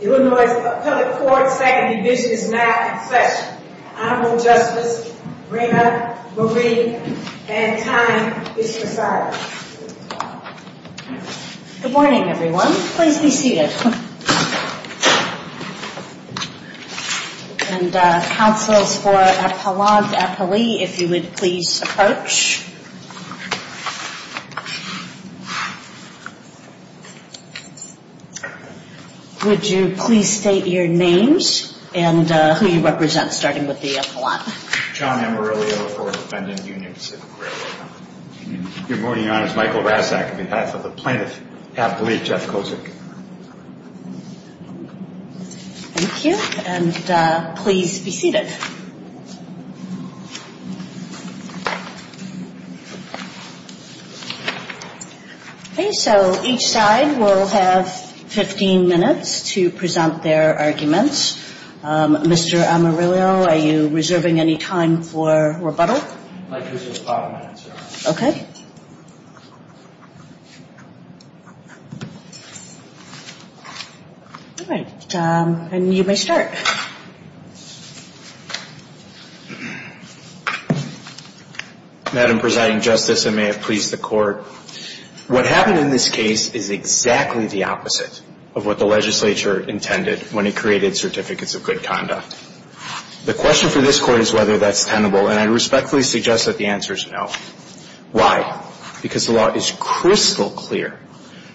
Illinois Appellate Court Second Division is now in session. Honorable Justice, Reina Marie, and time is presiding. Good morning, everyone. Please be seated. And, uh, counsels for Appalachia Police, if you would please approach. Would you please state your names and, uh, who you represent, starting with the appellate? John Amarillo for Appendant Union Pacific Railroad. Good morning, Your Honor. It's Michael Rassak on behalf of the plaintiff, Appellate Jeff Kozik. Thank you. And, uh, please be seated. Okay, so each side will have 15 minutes to present their arguments. Um, Mr. Amarillo, are you reserving any time for rebuttal? I could use five minutes, Your Honor. Okay. All right. Um, and you may start. Madam Presiding Justice, and may it please the Court, what happened in this case is exactly the opposite of what the legislature intended when it created Certificates of Good Conduct. The question for this Court is whether that's tenable, and I respectfully suggest that the answer is no. Why? Because the law is crystal clear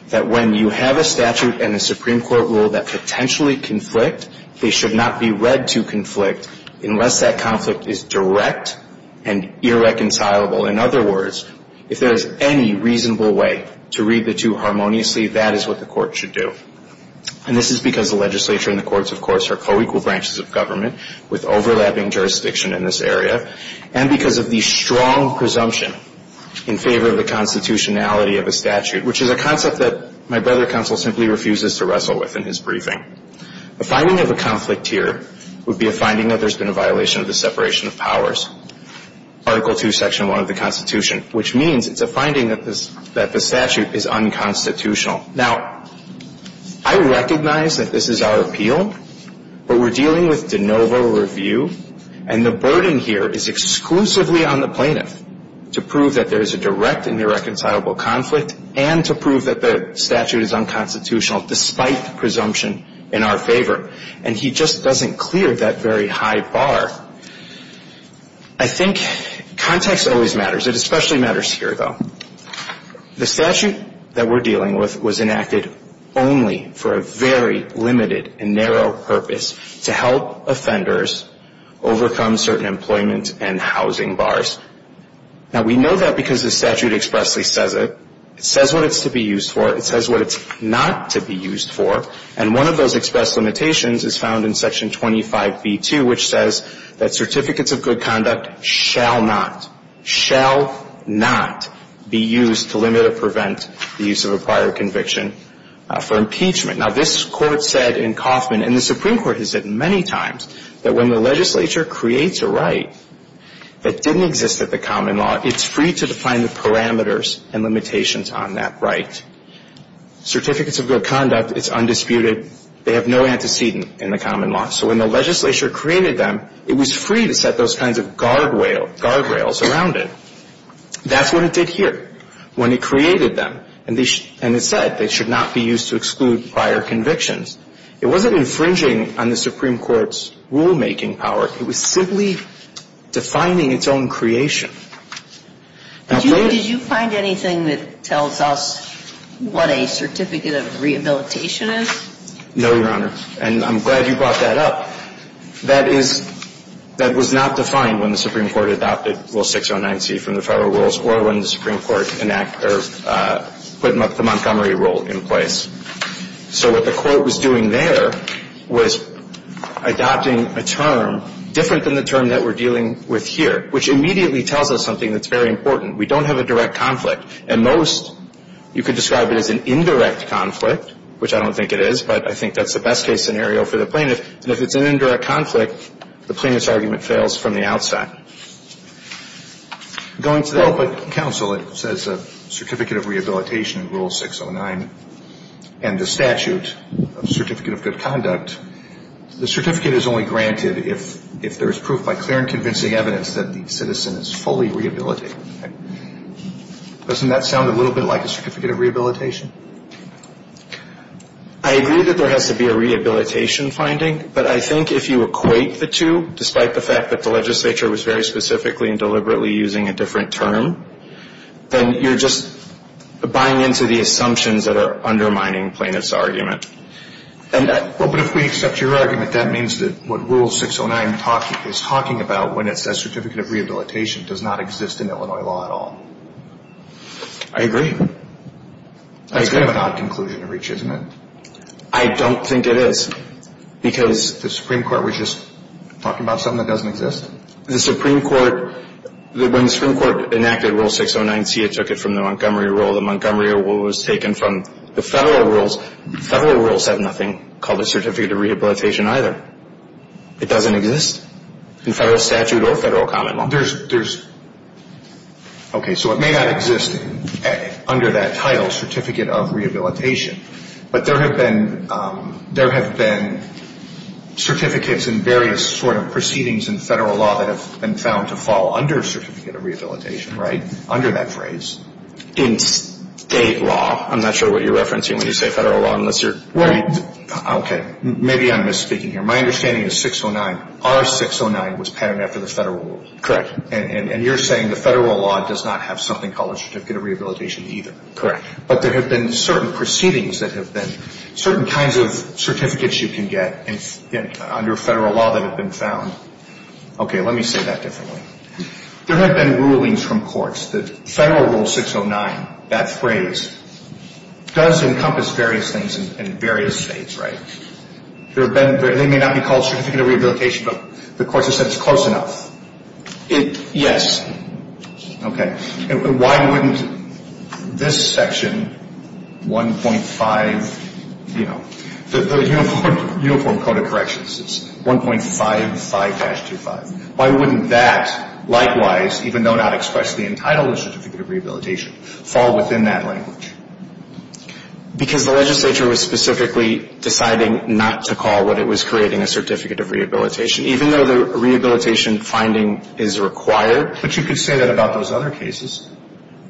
that when you have a statute and a Supreme Court rule that potentially conflict, they should not be read to conflict unless that conflict is direct and irreconcilable. In other words, if there is any reasonable way to read the two harmoniously, that is what the Court should do. And this is because the legislature and the courts, of course, are co-equal branches of government with overlapping jurisdiction in this area, and because of the strong presumption in favor of the constitutionality of a statute, which is a concept that my brother counsel simply refuses to wrestle with in his briefing. The finding of a conflict here would be a finding that there's been a violation of the separation of powers, Article 2, Section 1 of the Constitution, which means it's a finding that the statute is unconstitutional. Now, I recognize that this is our appeal, but we're dealing with de novo review, and the burden here is exclusively on the plaintiff to prove that there is a direct and irreconcilable conflict and to prove that the statute is unconstitutional despite the presumption in our favor. And he just doesn't clear that very high bar. I think context always matters. It especially matters here, though. The statute that we're dealing with was enacted only for a very limited and narrow purpose, to help offenders overcome certain employment and housing bars. Now, we know that because the statute expressly says it. It says what it's to be used for. It says what it's not to be used for. And one of those express limitations is found in Section 25b2, which says that certificates of good conduct shall not, shall not be used to limit or prevent the use of a prior conviction for impeachment. Now, this Court said in Coffman, and the Supreme Court has said many times, that when the legislature creates a right that didn't exist at the common law, it's free to define the parameters and limitations on that right. Certificates of good conduct, it's undisputed. They have no antecedent in the common law. So when the legislature created them, it was free to set those kinds of guard rails around it. That's what it did here when it created them. And it said they should not be used to exclude prior convictions. It wasn't infringing on the Supreme Court's rulemaking power. It was simply defining its own creation. Now, did you find anything that tells us what a certificate of rehabilitation is? No, Your Honor. And I'm glad you brought that up. That is, that was not defined when the Supreme Court adopted Rule 609C from the Federal Rules or when the Supreme Court put the Montgomery Rule in place. So what the Court was doing there was adopting a term different than the term that we're dealing with here, which immediately tells us something that's very important. We don't have a direct conflict. And most, you could describe it as an indirect conflict, which I don't think it is, but I think that's the best-case scenario for the plaintiff. And if it's an indirect conflict, the plaintiff's argument fails from the outside. Going to that ---- Well, but counsel, it says a certificate of rehabilitation in Rule 609 and the statute of certificate of good conduct. The certificate is only granted if there is proof by clear and convincing evidence that the citizen is fully rehabilitated. Doesn't that sound a little bit like a certificate of rehabilitation? I agree that there has to be a rehabilitation finding, but I think if you equate the two, despite the fact that the legislature was very specifically and deliberately using a different term, then you're just buying into the assumptions that are undermining plaintiff's argument. Well, but if we accept your argument, that means that what Rule 609 is talking about when it says certificate of rehabilitation does not exist in Illinois law at all. I agree. That's kind of an odd conclusion to reach, isn't it? I don't think it is because ---- The Supreme Court was just talking about something that doesn't exist? The Supreme Court, when the Supreme Court enacted Rule 609C, it took it from the Montgomery Rule. The Montgomery Rule was taken from the federal rules. Federal rules have nothing called a certificate of rehabilitation either. It doesn't exist in federal statute or federal common law. There's ---- Okay, so it may not exist under that title, certificate of rehabilitation, but there have been certificates in various sort of proceedings in federal law that have been found to fall under certificate of rehabilitation, right, under that phrase. In state law. I'm not sure what you're referencing when you say federal law unless you're ---- Okay, maybe I'm misspeaking here. My understanding is 609, R609 was patterned after the federal rule. Correct. And you're saying the federal law does not have something called a certificate of rehabilitation either. Correct. But there have been certain proceedings that have been certain kinds of certificates you can get under federal law that have been found. Okay, let me say that differently. There have been rulings from courts that federal Rule 609, that phrase, does encompass various things in various states, right? There have been, they may not be called certificate of rehabilitation, but the courts have said it's close enough. It, yes. Okay. And why wouldn't this section 1.5, you know, the Uniform Code of Corrections says 1.55-25. Why wouldn't that likewise, even though not expressly entitled as certificate of rehabilitation, fall within that language? Because the legislature was specifically deciding not to call what it was creating a certificate of rehabilitation, even though the rehabilitation finding is required. But you could say that about those other cases.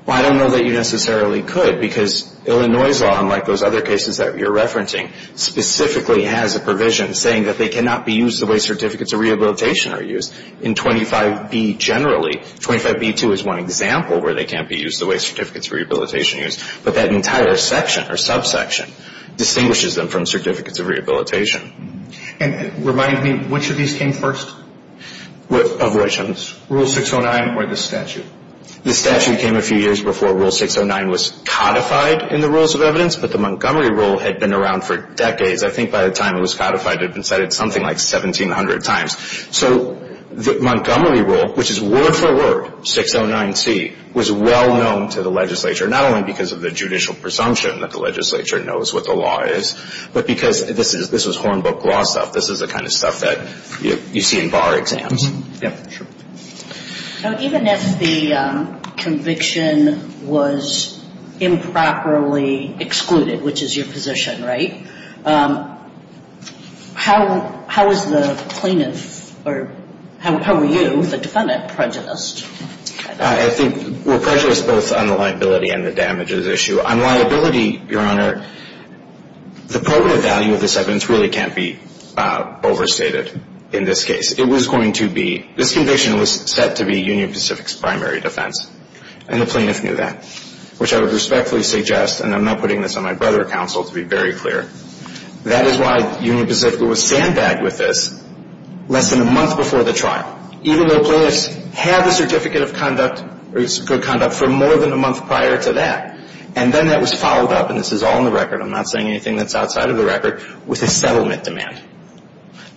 Well, I don't know that you necessarily could because Illinois' law, unlike those other cases that you're referencing, specifically has a provision saying that they cannot be used the way certificates of rehabilitation are used. In 25B generally, 25B-2 is one example where they can't be used the way certificates of rehabilitation are used. But that entire section or subsection distinguishes them from certificates of rehabilitation. And remind me, which of these came first? Avoidance. Rule 609 or the statute? The statute came a few years before Rule 609 was codified in the Rules of Evidence, but the Montgomery Rule had been around for decades. I think by the time it was codified, it had been cited something like 1,700 times. So the Montgomery Rule, which is word for word, 609C, was well known to the legislature, not only because of the judicial presumption that the legislature knows what the law is, but because this was hornbook law stuff. This is the kind of stuff that you see in bar exams. Yep. Sure. So even if the conviction was improperly excluded, which is your position, right, how is the plaintiff or how are you, the defendant, prejudiced? I think we're prejudiced both on the liability and the damages issue. On liability, Your Honor, the probative value of this evidence really can't be overstated in this case. It was going to be, this conviction was set to be Union Pacific's primary defense, and the plaintiff knew that, which I would respectfully suggest, and I'm not putting this on my brother or counsel to be very clear, that is why Union Pacific was sandbagged with this less than a month before the trial. Even though plaintiffs had the certificate of conduct, or good conduct, for more than a month prior to that, and then that was followed up, and this is all in the record, I'm not saying anything that's outside of the record, with a settlement demand,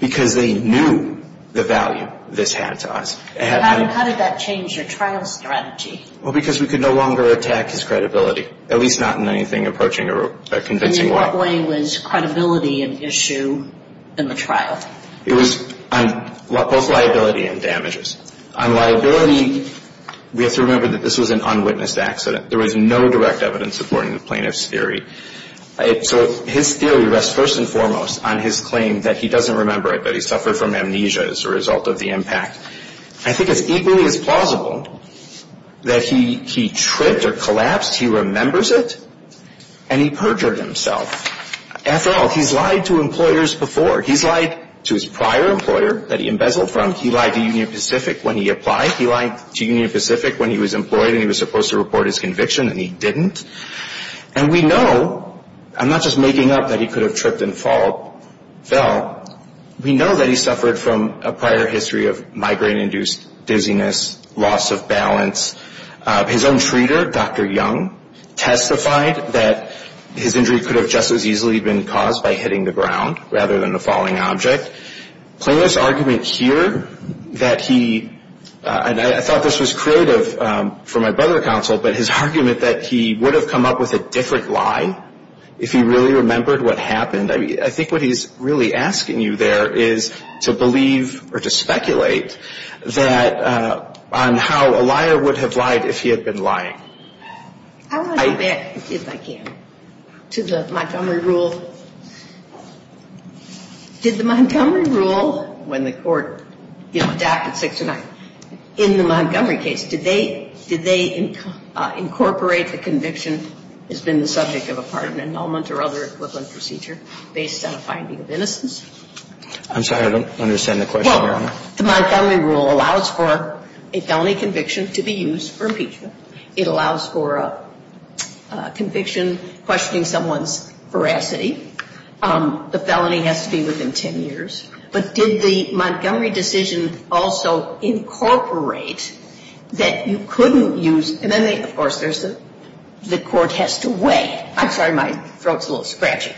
because they knew the value this had to us. How did that change your trial strategy? Well, because we could no longer attack his credibility, at least not in anything approaching or convincing way. In what way was credibility an issue in the trial? It was both liability and damages. On liability, we have to remember that this was an unwitnessed accident. There was no direct evidence supporting the plaintiff's theory. So his theory rests first and foremost on his claim that he doesn't remember it, that he suffered from amnesia as a result of the impact. I think it's equally as plausible that he tripped or collapsed, he remembers it, and he perjured himself. After all, he's lied to employers before. He's lied to his prior employer that he embezzled from. He lied to Union Pacific when he applied. He lied to Union Pacific when he was employed and he was supposed to report his conviction, and he didn't. And we know, I'm not just making up that he could have tripped and fell, we know that he suffered from a prior history of migraine-induced dizziness, loss of balance. His own treater, Dr. Young, testified that his injury could have just as easily been caused by hitting the ground rather than a falling object. Plaintiff's argument here that he, and I thought this was creative for my brother counsel, but his argument that he would have come up with a different lie if he really remembered what happened, I think what he's really asking you there is to believe or to speculate on how a liar would have lied if he had been lying. I want to go back, if I can, to the Montgomery rule. Did the Montgomery rule, when the Court, you know, adopted 609, in the Montgomery case, did they incorporate the conviction as being the subject of a pardon, annulment, or other equivalent procedure based on a finding of innocence? I'm sorry, I don't understand the question, Your Honor. Well, the Montgomery rule allows for a felony conviction to be used for impeachment. It allows for a conviction questioning someone's veracity. The felony has to be within 10 years. But did the Montgomery decision also incorporate that you couldn't use, and then, of course, there's the Court has to weigh. I'm sorry, my throat's a little scratchy.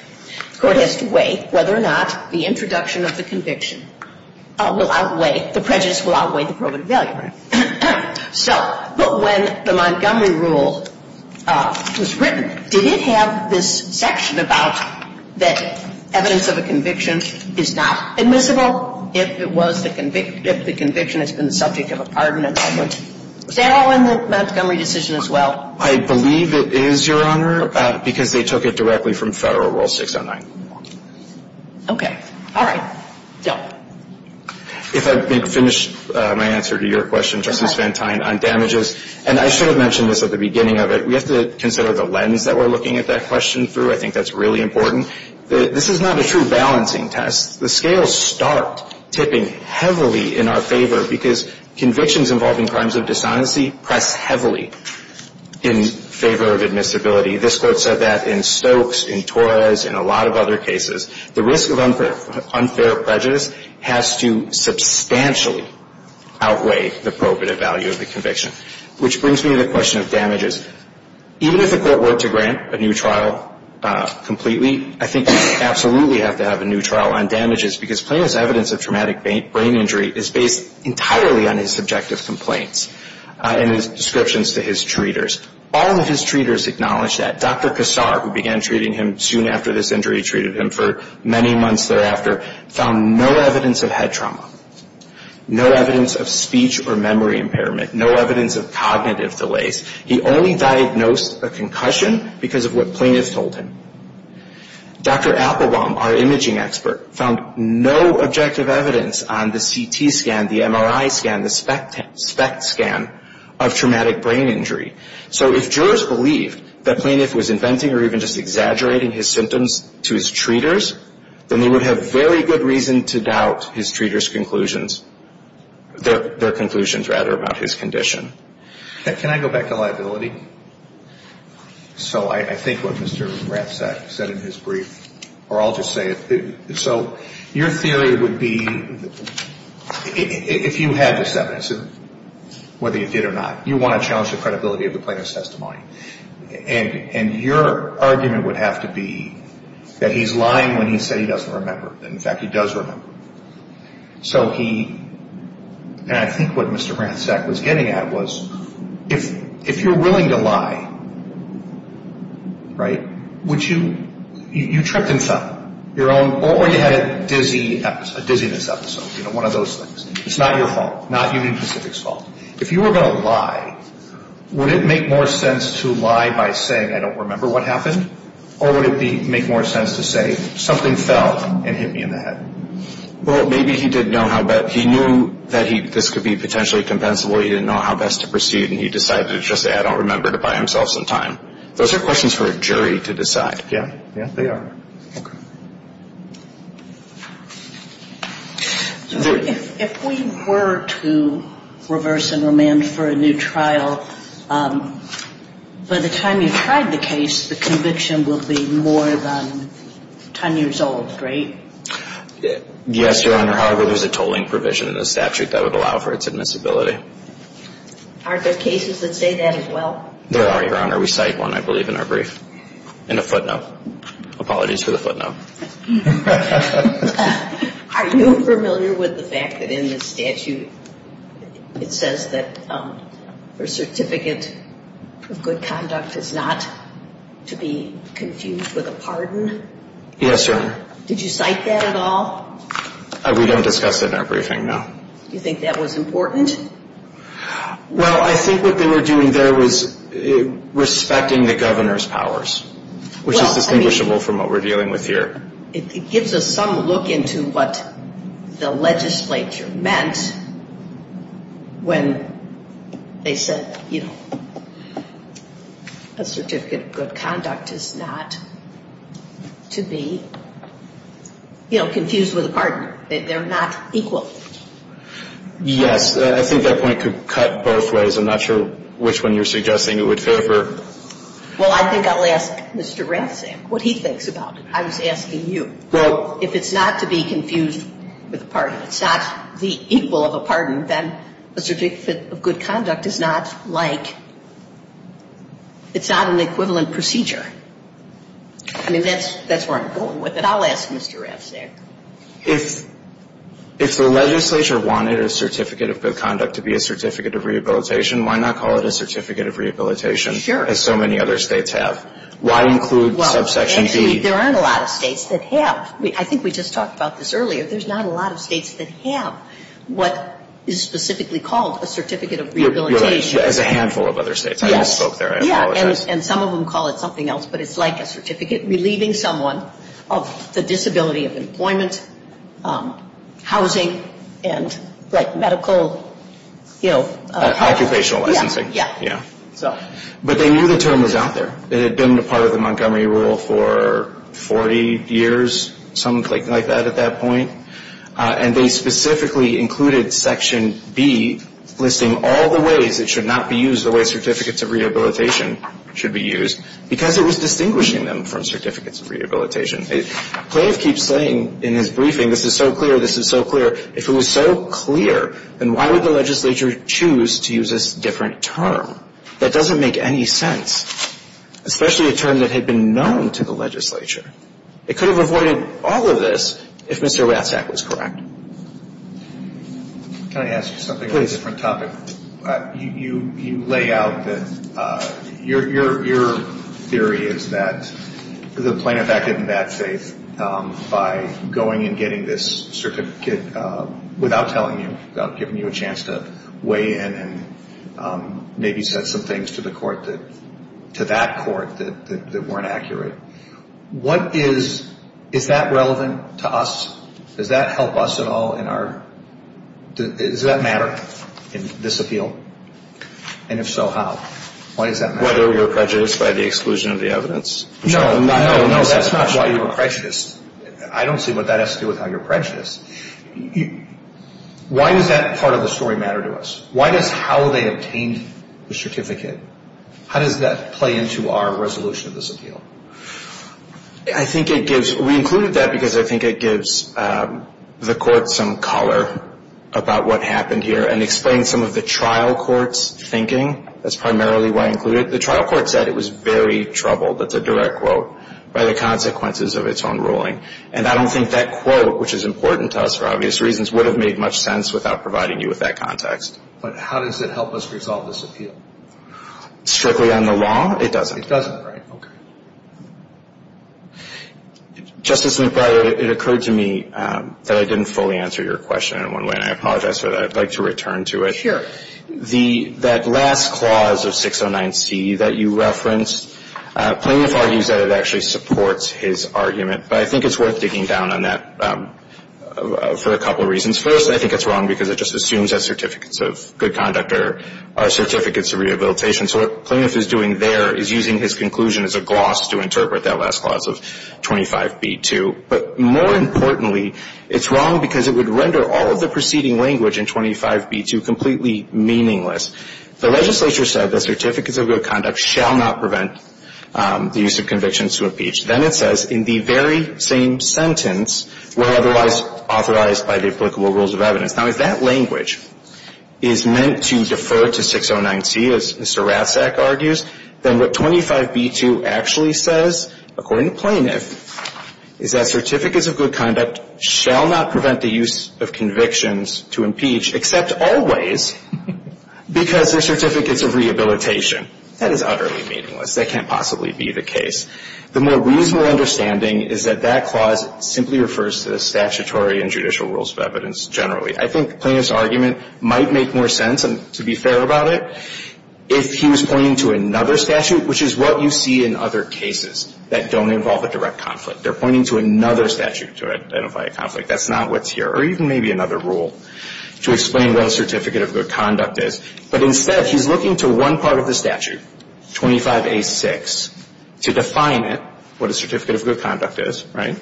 The Court has to weigh whether or not the introduction of the conviction will outweigh, the prejudice will outweigh the probative value. So, but when the Montgomery rule was written, did it have this section about that evidence of a conviction is not admissible if the conviction has been the subject of a pardon, annulment? Was that all in the Montgomery decision as well? I believe it is, Your Honor, because they took it directly from Federal Rule 609. Okay. All right. Yeah. If I could finish my answer to your question, Justice Van Tine, on damages. And I should have mentioned this at the beginning of it. We have to consider the lens that we're looking at that question through. I think that's really important. This is not a true balancing test. The scales start tipping heavily in our favor because convictions involving crimes of dishonesty press heavily in favor of admissibility. This Court said that in Stokes, in Torres, in a lot of other cases. The risk of unfair prejudice has to substantially outweigh the probative value of the conviction. Which brings me to the question of damages. Even if the Court were to grant a new trial completely, I think you absolutely have to have a new trial on damages because plaintiff's evidence of traumatic brain injury is based entirely on his subjective complaints and his descriptions to his treaters. All of his treaters acknowledge that. Dr. Kassar, who began treating him soon after this injury, treated him for many months thereafter, found no evidence of head trauma. No evidence of speech or memory impairment. No evidence of cognitive delays. He only diagnosed a concussion because of what plaintiff told him. Dr. Applebaum, our imaging expert, found no objective evidence on the CT scan, the MRI scan, the SPECT scan of traumatic brain injury. So if jurors believed that plaintiff was inventing or even just exaggerating his symptoms to his treaters, then they would have very good reason to doubt his treaters' conclusions. Their conclusions, rather, about his condition. Can I go back to liability? So I think what Mr. Ratzak said in his brief, or I'll just say it. So your theory would be, if you had this evidence, whether you did or not, you want to challenge the credibility of the plaintiff's testimony. And your argument would have to be that he's lying when he said he doesn't remember, and, in fact, he does remember. So he, and I think what Mr. Ratzak was getting at was, if you're willing to lie, right, would you, you tripped and fell, or you had a dizziness episode, you know, one of those things. It's not your fault. Not Union Pacific's fault. If you were going to lie, would it make more sense to lie by saying, I don't remember what happened, or would it make more sense to say, something fell and hit me in the head? Well, maybe he didn't know how, but he knew that this could be potentially compensable. He didn't know how best to proceed, and he decided to just say, I don't remember, to buy himself some time. Those are questions for a jury to decide. Yeah. Yeah, they are. Okay. If we were to reverse and remand for a new trial, by the time you've tried the case, the conviction will be more than 10 years old, right? Yes, Your Honor. However, there's a tolling provision in the statute that would allow for its admissibility. Aren't there cases that say that as well? There are, Your Honor. We cite one, I believe, in our brief, in a footnote. Apologies for the footnote. Are you familiar with the fact that in the statute, it says that a certificate of good conduct is not to be confused with a pardon? Yes, Your Honor. Did you cite that at all? We don't discuss that in our briefing, no. Do you think that was important? Well, I think what they were doing there was respecting the governor's powers, which is distinguishable from what we're dealing with here. It gives us some look into what the legislature meant when they said, you know, a certificate of good conduct is not to be, you know, confused with a pardon. They're not equal. Yes. I think that point could cut both ways. I'm not sure which one you're suggesting would favor. Well, I think I'll ask Mr. Ratzak what he thinks about it. I was asking you. Well. If it's not to be confused with a pardon, it's not the equal of a pardon, then a certificate of good conduct is not like, it's not an equivalent procedure. I mean, that's where I'm going with it. I'll ask Mr. Ratzak. If the legislature wanted a certificate of good conduct to be a certificate of rehabilitation, why not call it a certificate of rehabilitation? Sure. As so many other states have. Why include subsection B? Well, actually, there aren't a lot of states that have. I think we just talked about this earlier. There's not a lot of states that have what is specifically called a certificate of rehabilitation. Right. As a handful of other states. Yes. I misspoke there. I apologize. Yeah. And some of them call it something else, but it's like a certificate relieving someone of the disability of employment, housing, and, like, medical, you know. Occupational licensing. Yeah. Yeah. But they knew the term was out there. It had been a part of the Montgomery rule for 40 years, something like that at that point. And they specifically included section B listing all the ways it should not be used, the way certificates of rehabilitation should be used, because it was distinguishing them from certificates of rehabilitation. Clay keeps saying in his briefing, this is so clear, this is so clear. If it was so clear, then why would the legislature choose to use this different term? That doesn't make any sense, especially a term that had been known to the legislature. It could have avoided all of this if Mr. Ratzak was correct. Can I ask you something on a different topic? You lay out that your theory is that the plaintiff acted in bad faith by going and getting this certificate without telling you, without giving you a chance to weigh in and maybe said some things to the court that, to that court that weren't accurate. What is, is that relevant to us? Does that help us at all in our, does that matter in this appeal? And if so, how? Why does that matter? Whether we were prejudiced by the exclusion of the evidence. No, no, no, that's not why you were prejudiced. I don't see what that has to do with how you're prejudiced. Why does that part of the story matter to us? Why does how they obtained the certificate, how does that play into our resolution of this appeal? I think it gives, we included that because I think it gives the court some color about what happened here and explains some of the trial court's thinking. That's primarily why I included it. The trial court said it was very troubled, that's a direct quote, by the consequences of its own ruling. And I don't think that quote, which is important to us for obvious reasons, would have made much sense without providing you with that context. But how does it help us resolve this appeal? Strictly on the law? It doesn't. It doesn't, right. Okay. Justice McBride, it occurred to me that I didn't fully answer your question in one way, and I apologize for that. I'd like to return to it. Sure. The last clause of 609C that you referenced, Plaintiff argues that it actually supports his argument. But I think it's worth digging down on that for a couple of reasons. First, I think it's wrong because it just assumes that certificates of good conduct are certificates of rehabilitation. So what Plaintiff is doing there is using his conclusion as a gloss to interpret that last clause of 25b-2. But more importantly, it's wrong because it would render all of the preceding language in 25b-2 completely meaningless. The legislature said that certificates of good conduct shall not prevent the use of convictions to impeach. Then it says, in the very same sentence, were otherwise authorized by the applicable rules of evidence. Now, if that language is meant to defer to 609C, as Mr. Ratzak argues, then what 25b-2 actually says, according to Plaintiff, is that certificates of good conduct shall not prevent the use of convictions to impeach, except always because they're certificates of rehabilitation. That is utterly meaningless. That can't possibly be the case. The more reasonable understanding is that that clause simply refers to the statutory and judicial rules of evidence generally. I think Plaintiff's argument might make more sense, to be fair about it, if he was pointing to another statute, which is what you see in other cases that don't involve a direct conflict. They're pointing to another statute to identify a conflict. That's not what's here. Or even maybe another rule to explain what a certificate of good conduct is. But instead, he's looking to one part of the statute, 25a-6, to define it, what a certificate of good conduct is, right?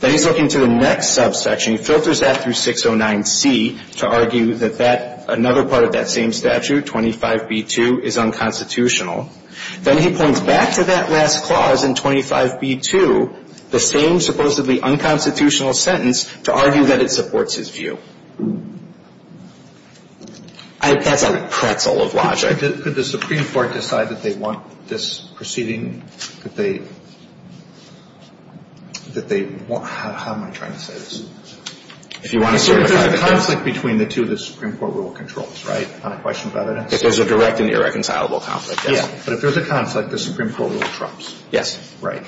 Then he's looking to the next subsection. He filters that through 609C to argue that that, another part of that same statute, 25b-2, is unconstitutional. Then he points back to that last clause in 25b-2, the same supposedly unconstitutional sentence, to argue that it supports his view. I think that's a pretzel of logic. Could the Supreme Court decide that they want this proceeding, that they – that they – how am I trying to say this? If you want to certify it. There's a conflict between the two that the Supreme Court rule controls, right, on a question of evidence? If there's a direct and irreconcilable conflict, yes. Yeah, but if there's a conflict, the Supreme Court rule trumps. Yes. Right.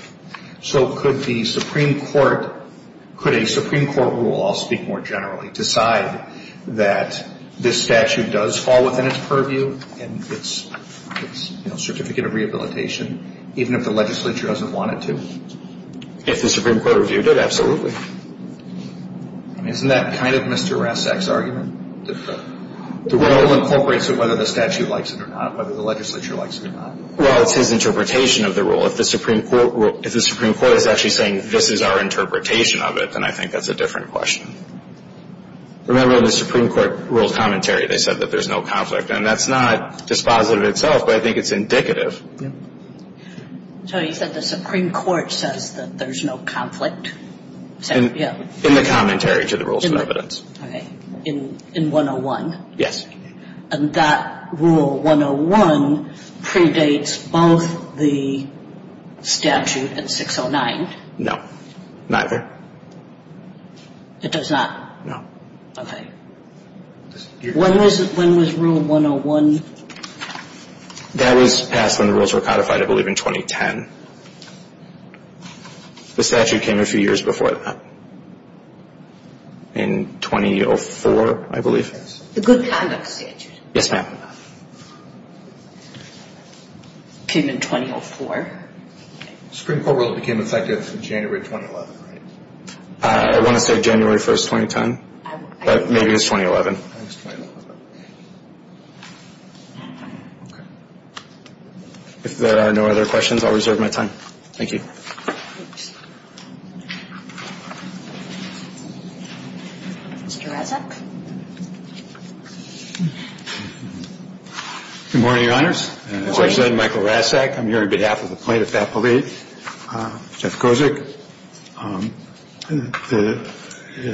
So could the Supreme Court – could a Supreme Court rule, I'll speak more generally, decide that this statute does fall within its purview and its, you know, certificate of rehabilitation, even if the legislature doesn't want it to? If the Supreme Court review did, absolutely. Isn't that kind of Mr. Rasek's argument? The rule incorporates whether the statute likes it or not, whether the legislature likes it or not. Well, it's his interpretation of the rule. If the Supreme Court is actually saying this is our interpretation of it, then I think that's a different question. Remember, the Supreme Court ruled commentary. They said that there's no conflict. And that's not dispositive itself, but I think it's indicative. So you said the Supreme Court says that there's no conflict? In the commentary to the rules of evidence. Okay. In 101? Yes. And that Rule 101 predates both the statute and 609? No, neither. It does not? No. Okay. When was Rule 101? That was passed when the rules were codified, I believe, in 2010. The statute came a few years before that. In 2004, I believe. The good conduct statute. Yes, ma'am. It came in 2004. The Supreme Court rule became effective in January 2011, right? I want to say January 1, 2010, but maybe it was 2011. I think it was 2011. Okay. If there are no other questions, I'll reserve my time. Thank you. Mr. Raczak. Good morning, Your Honors. Good morning. I'm Michael Raczak. I'm here on behalf of the plaintiff's appellate, Jeff Kozik.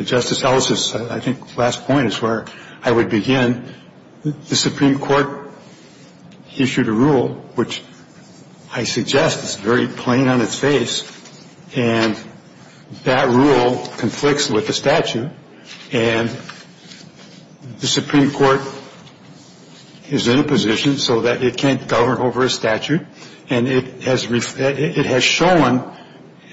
Justice Ellis's, I think, last point is where I would begin. The Supreme Court issued a rule, which I suggest is very plain on its face. And that rule conflicts with the statute. And the Supreme Court is in a position so that it can't govern over a statute. And it has shown,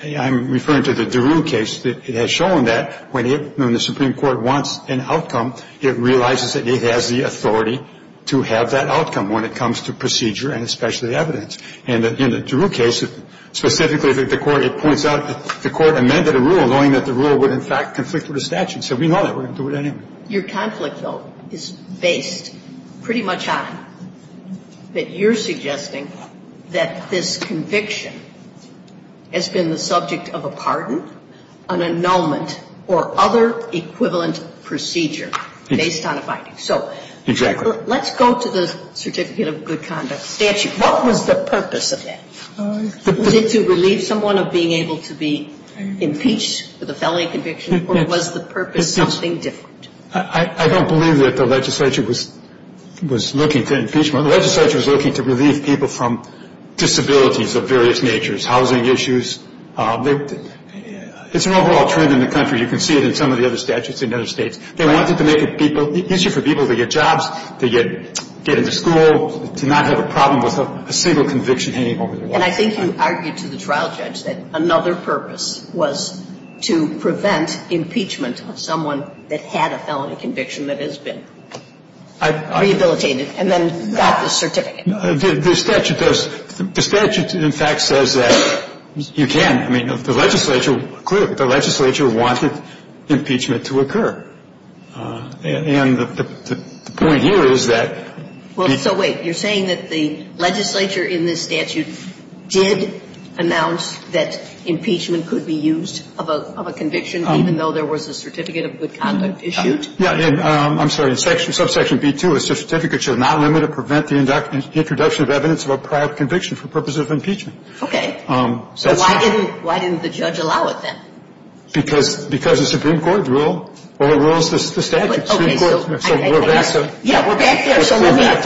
I'm referring to the DeRue case, it has shown that when the Supreme Court wants an outcome, it realizes that it has the authority to have that outcome when it comes to procedure and especially evidence. And in the DeRue case, specifically, the court, it points out, the court amended a rule knowing that the rule would, in fact, conflict with the statute. So we know that. We're going to do it anyway. Your conflict, though, is based pretty much on that you're suggesting that this conviction has been the subject of a pardon, an annulment, or other equivalent procedure based on a binding. So let's go to the Certificate of Good Conduct statute. What was the purpose of that? Was it to relieve someone of being able to be impeached with a felony conviction? Or was the purpose something different? I don't believe that the legislature was looking to impeach. The legislature was looking to relieve people from disabilities of various natures, housing issues. It's an overall trend in the country. You can see it in some of the other statutes in other states. They wanted to make it easier for people to get jobs, to get into school, to not have a problem with a single conviction hanging over their head. And I think you argued to the trial judge that another purpose was to prevent impeachment of someone that had a felony conviction that has been rehabilitated and then got the certificate. The statute does – the statute, in fact, says that you can. I mean, the legislature – clearly, the legislature wanted impeachment to occur. And the point here is that the – Well, so wait. You're saying that the legislature in this statute did announce that impeachment could be used of a conviction even though there was a Certificate of Good Conduct issued? Yeah. I'm sorry. In subsection B-2, a certificate shall not limit or prevent the introduction of evidence of a prior conviction for purposes of impeachment. Okay. So that's not – So why didn't the judge allow it then? Because the Supreme Court ruled – well, it rules the statute. Okay. So we're back to – Yeah, we're back there. So let me ask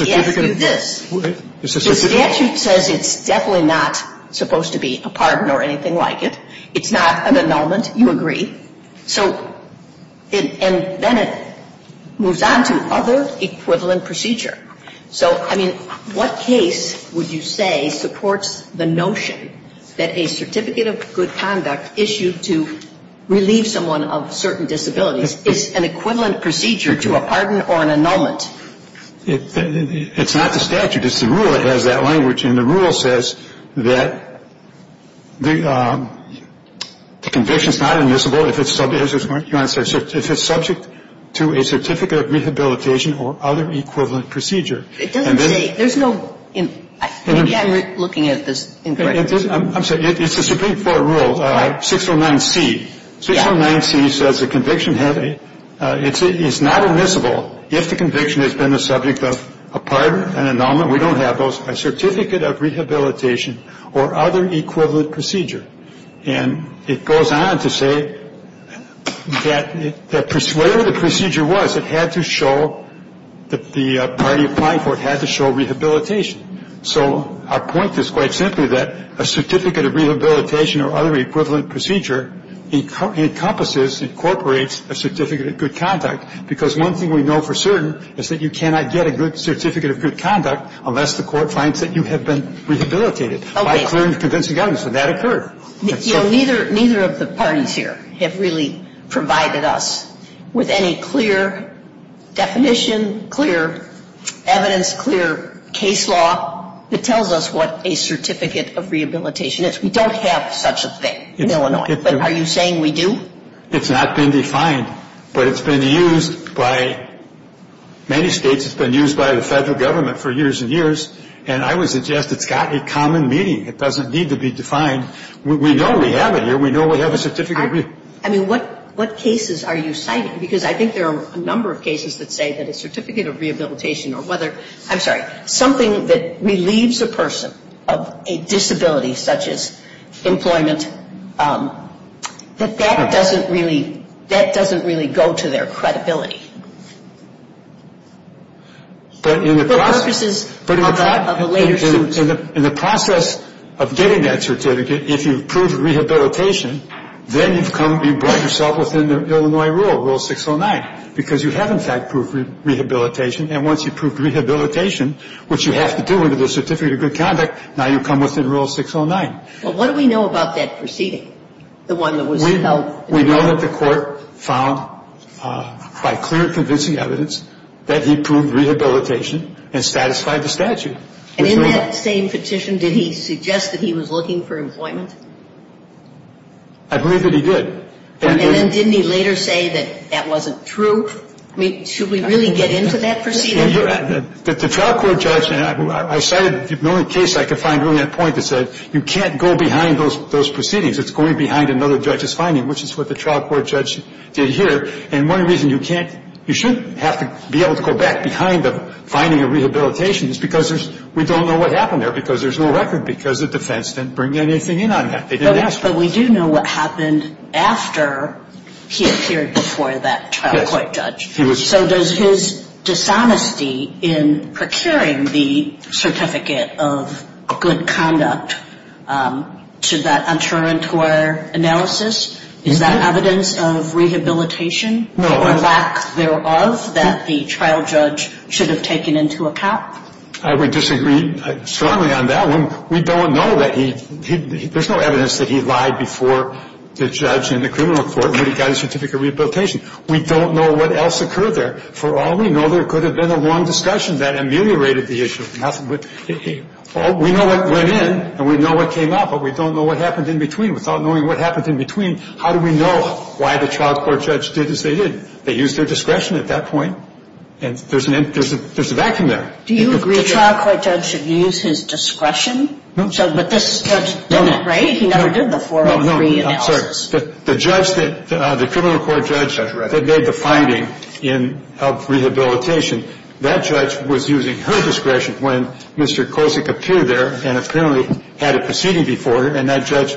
you this. The statute says it's definitely not supposed to be a pardon or anything like it. It's not an annulment. You agree? So – and then it moves on to other equivalent procedure. So, I mean, what case would you say supports the notion that a Certificate of Good Conduct issued to relieve someone of certain disabilities is an equivalent procedure to a pardon or an annulment? It's not the statute. It's the rule that has that language. And the rule says that the conviction is not admissible if it's subject to a Certificate of Rehabilitation or other equivalent procedure. It doesn't say – there's no – maybe I'm looking at this incorrectly. I'm sorry. It's the Supreme Court rule, 609C. Yeah. 609C says the conviction is not admissible if the conviction has been the subject of a pardon, an annulment. It's not the statute. No, we don't have those. A Certificate of Rehabilitation or other equivalent procedure. And it goes on to say that whatever the procedure was, it had to show that the party applying for it had to show rehabilitation. So our point is quite simply that a Certificate of Rehabilitation or other equivalent procedure encompasses, incorporates a Certificate of Good Conduct because one thing we know for certain is that you cannot get a Certificate of Good Conduct unless the court finds that you have been rehabilitated. Okay. By a clear and convincing evidence. And that occurred. Neither of the parties here have really provided us with any clear definition, clear evidence, clear case law that tells us what a Certificate of Rehabilitation is. We don't have such a thing in Illinois. But are you saying we do? It's not been defined. But it's been used by many states. It's been used by the Federal Government for years and years. And I would suggest it's got a common meaning. It doesn't need to be defined. We know we have it here. We know we have a Certificate of Rehabilitation. I mean, what cases are you citing? Because I think there are a number of cases that say that a Certificate of Rehabilitation or whether, I'm sorry, something that relieves a person of a disability such as employment, that that doesn't really go to their credibility. For purposes of a later suit. In the process of getting that certificate, if you've proved rehabilitation, then you've brought yourself within the Illinois rule, Rule 609. Because you have, in fact, proved rehabilitation. And once you've proved rehabilitation, which you have to do under the Certificate of Good Conduct, now you've come within Rule 609. Well, what do we know about that proceeding, the one that was held? We know that the Court found by clear convincing evidence that he proved rehabilitation and satisfied the statute. And in that same petition, did he suggest that he was looking for employment? I believe that he did. And then didn't he later say that that wasn't true? I mean, should we really get into that proceeding? The trial court judge, and I cited the only case I could find really at that point that said, you can't go behind those proceedings. It's going behind another judge's finding, which is what the trial court judge did here. And one reason you can't, you shouldn't have to be able to go back behind the finding of rehabilitation is because we don't know what happened there, because there's no record, because the defense didn't bring anything in on that. They didn't ask for it. But we do know what happened after he appeared before that trial court judge. Yes, he was. So does his dishonesty in procuring the Certificate of Good Conduct, to that unterritorial analysis, is that evidence of rehabilitation or lack thereof that the trial judge should have taken into account? I would disagree strongly on that one. We don't know that he – there's no evidence that he lied before the judge in the criminal court when he got his certificate of rehabilitation. We don't know what else occurred there. For all we know, there could have been a long discussion that ameliorated the issue. We know what went in and we know what came out, but we don't know what happened in between. Without knowing what happened in between, how do we know why the trial court judge did as they did? They used their discretion at that point, and there's a vacuum there. Do you agree that the trial court judge should use his discretion? No. But this judge didn't, right? No. He never did the 403 analysis. No, no, I'm sorry. The judge that – the criminal court judge that made the finding of rehabilitation, that judge was using her discretion when Mr. Kosick appeared there and apparently had a proceeding before her, and that judge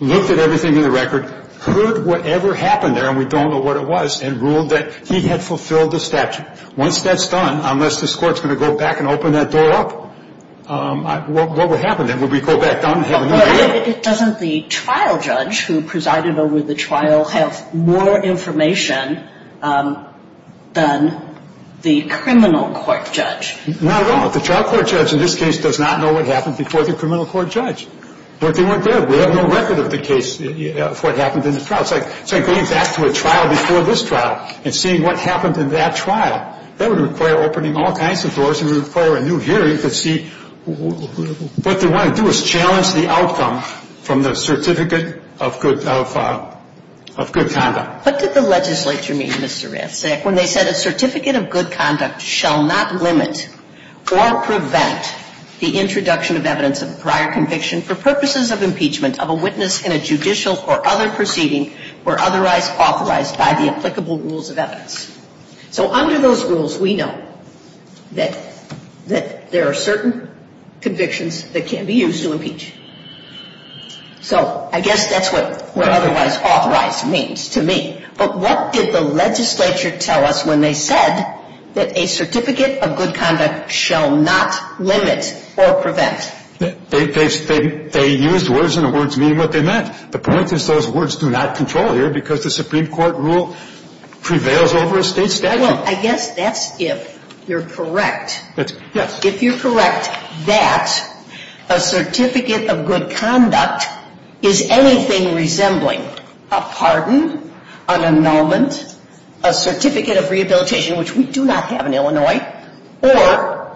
looked at everything in the record, heard whatever happened there, and we don't know what it was, and ruled that he had fulfilled the statute. Once that's done, unless this Court's going to go back and open that door up, what would happen then? Would we go back down and have another look? But doesn't the trial judge who presided over the trial have more information than the criminal court judge? Not at all. The trial court judge in this case does not know what happened before the criminal court judge. But they weren't there. We have no record of the case, of what happened in the trial. It's like going back to a trial before this trial and seeing what happened in that trial. That would require opening all kinds of doors. It would require a new hearing to see what they want to do is challenge the outcome from the certificate of good conduct. What did the legislature mean, Mr. Ratzsack, when they said a certificate of good conduct shall not limit or prevent the introduction of evidence of a prior conviction for purposes of impeachment of a witness in a judicial or other proceeding were otherwise authorized by the applicable rules of evidence? So under those rules, we know that there are certain convictions that can be used to impeach. So I guess that's what were otherwise authorized means to me. But what did the legislature tell us when they said that a certificate of good conduct shall not limit or prevent? They used words and the words mean what they meant. The point is those words do not control here because the Supreme Court rule prevails over a State statute. Well, I guess that's if you're correct. Yes. If you're correct that a certificate of good conduct is anything resembling a pardon, an annulment, a certificate of rehabilitation, which we do not have in Illinois, or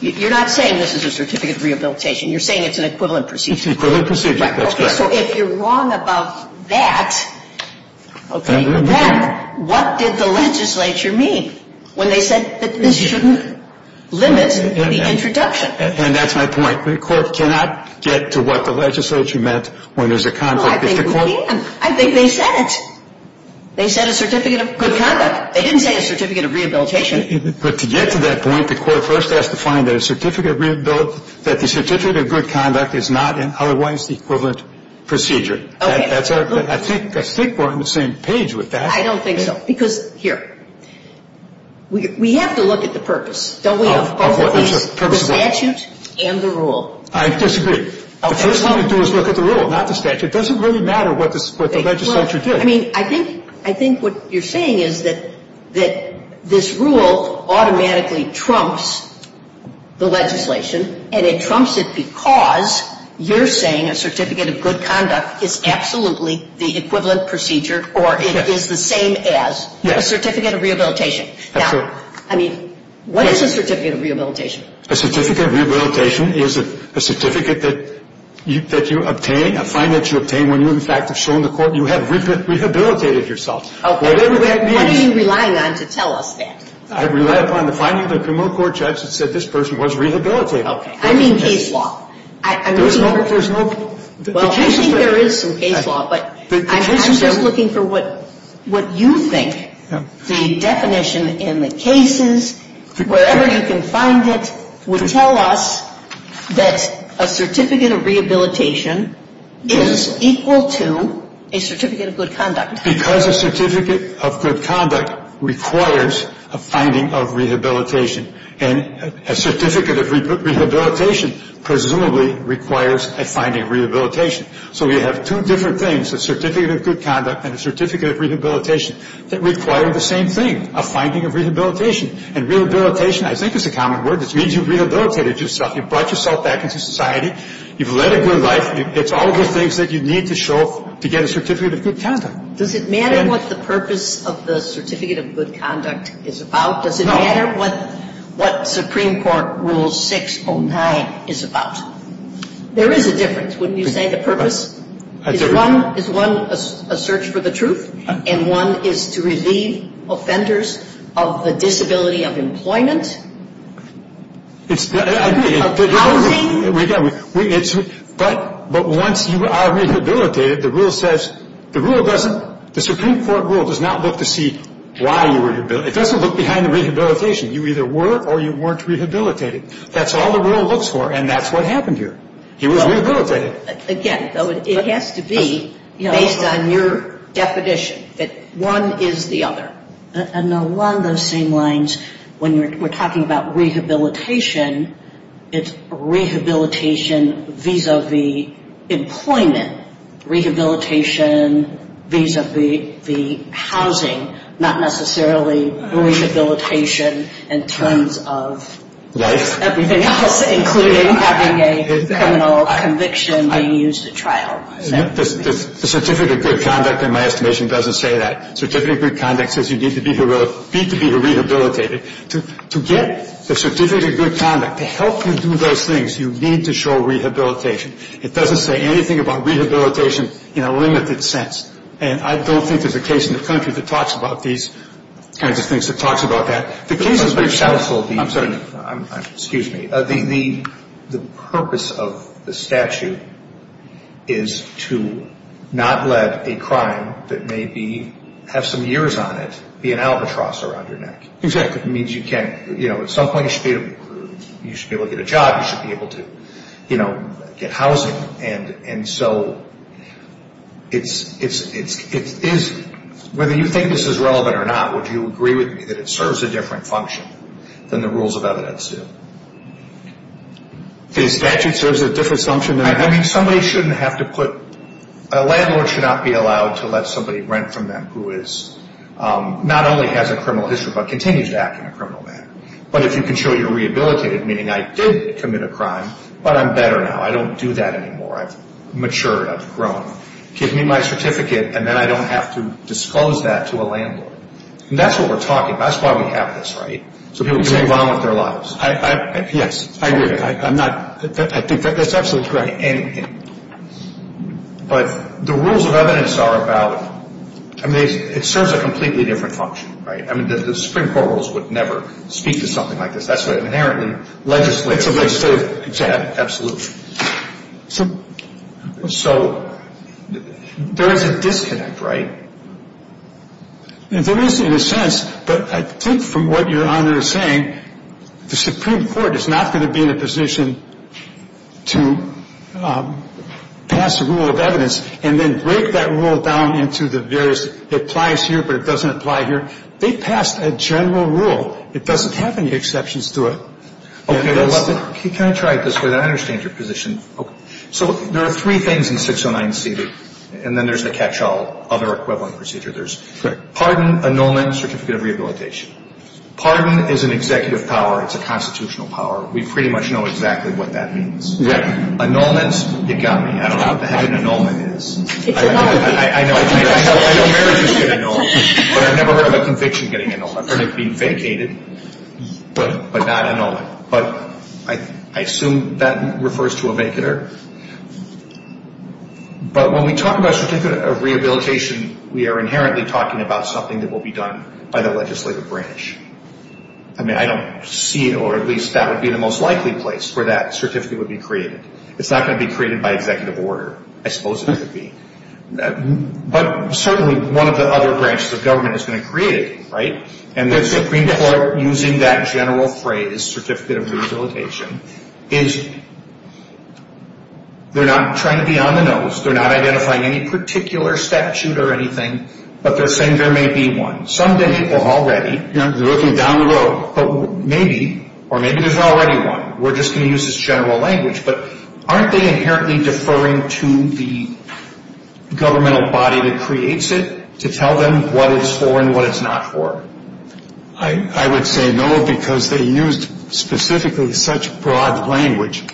you're not saying this is a certificate of rehabilitation. You're saying it's an equivalent procedure. It's an equivalent procedure. That's correct. So if you're wrong about that, okay, then what did the legislature mean when they said that this shouldn't limit the introduction? And that's my point. The Court cannot get to what the legislature meant when there's a conflict with the Court. Well, I think we can. I think they said it. They said a certificate of good conduct. They didn't say a certificate of rehabilitation. But to get to that point, the Court first has to find that a certificate of good conduct is not in otherwise the equivalent procedure. Okay. I think we're on the same page with that. I don't think so. Because here, we have to look at the purpose, don't we, of both the statute and the rule. I disagree. The first thing we do is look at the rule, not the statute. It doesn't really matter what the legislature did. I mean, I think what you're saying is that this rule automatically trumps the legislation, and it trumps it because you're saying a certificate of good conduct is absolutely the equivalent procedure or it is the same as a certificate of rehabilitation. That's right. Now, I mean, what is a certificate of rehabilitation? A certificate of rehabilitation is a certificate that you obtain, a fine that you obtain, when you, in fact, have shown the Court you have rehabilitated yourself. Whatever that means. What are you relying on to tell us that? I rely upon the finding of the criminal court judge that said this person was rehabilitated. Okay. I mean case law. There's no case law. Well, I think there is some case law, but I'm just looking for what you think the definition in the cases, wherever you can find it, would tell us that a certificate of rehabilitation is equal to a certificate of good conduct. Because a certificate of good conduct requires a finding of rehabilitation. And a certificate of rehabilitation presumably requires a finding of rehabilitation. So you have two different things, the certificate of good conduct and a certificate of rehabilitation, that require the same thing, a finding of rehabilitation. And rehabilitation, I think it's a common word, it means you've rehabilitated yourself. You've brought yourself back into society. You've led a good life. It's all the things that you need to show to get a certificate of good conduct. Does it matter what the purpose of the certificate of good conduct is about? No. Does it matter what Supreme Court Rule 609 is about? There is a difference, wouldn't you say? Is one a search for the truth? And one is to relieve offenders of the disability of employment? Housing? But once you are rehabilitated, the rule says, the Supreme Court rule does not look to see why you were rehabilitated. It doesn't look behind the rehabilitation. You either were or you weren't rehabilitated. That's all the rule looks for, and that's what happened here. He was rehabilitated. Again, though, it has to be based on your definition, that one is the other. And along those same lines, when we're talking about rehabilitation, it's rehabilitation vis-a-vis employment. Rehabilitation vis-a-vis housing, not necessarily rehabilitation in terms of everything else, including having a criminal conviction being used at trial. The certificate of good conduct, in my estimation, doesn't say that. Certificate of good conduct says you need to be rehabilitated. To get the certificate of good conduct, to help you do those things, you need to show rehabilitation. It doesn't say anything about rehabilitation in a limited sense. And I don't think there's a case in the country that talks about these kinds of things, that talks about that. Excuse me. The purpose of the statute is to not let a crime that may have some years on it be an albatross around your neck. Exactly. It means at some point you should be able to get a job, you should be able to get housing. And so, whether you think this is relevant or not, would you agree with me that it serves a different function than the rules of evidence do? The statute serves a different function? I mean, somebody shouldn't have to put, a landlord should not be allowed to let somebody rent from them who is, not only has a criminal history, but continues to act in a criminal manner. But if you can show you're rehabilitated, meaning I did commit a crime, but I'm better now. I don't do that anymore. I've matured. I've grown. Give me my certificate, and then I don't have to disclose that to a landlord. And that's what we're talking about. That's why we have this, right? So people can move on with their lives. Yes, I agree. I'm not, I think that's absolutely correct. But the rules of evidence are about, I mean, it serves a completely different function, right? I mean, the Supreme Court rules would never speak to something like this. That's what inherently legislative. Exactly. So there is a disconnect, right? There is in a sense, but I think from what Your Honor is saying, the Supreme Court is not going to be in a position to pass a rule of evidence and then break that rule down into the various, it applies here, but it doesn't apply here. They passed a general rule. It doesn't have any exceptions to it. Okay. Can I try it this way? I understand your position. So there are three things in 609C, and then there's the catch-all, other equivalent procedure. Pardon, annulment, certificate of rehabilitation. Pardon is an executive power. It's a constitutional power. We pretty much know exactly what that means. Exactly. Annulment, you've got me. I don't know what the heck an annulment is. It's anonymous. I know. All marriages get annulled, but I've never heard of a conviction getting annulled. I've heard it being vacated, but not annulled. But I assume that refers to a vacater. But when we talk about certificate of rehabilitation, we are inherently talking about something that will be done by the legislative branch. I mean, I don't see it, or at least that would be the most likely place where that certificate would be created. It's not going to be created by executive order. I suppose it could be. But certainly one of the other branches of government is going to create it, right? And the Supreme Court, using that general phrase, certificate of rehabilitation, is they're not trying to be on the nose. They're not identifying any particular statute or anything, but they're saying there may be one. Some people already, they're looking down the road, but maybe, or maybe there's already one. We're just going to use this general language. But aren't they inherently deferring to the governmental body that creates it to tell them what it's for and what it's not for? I would say no, because they used specifically such broad language.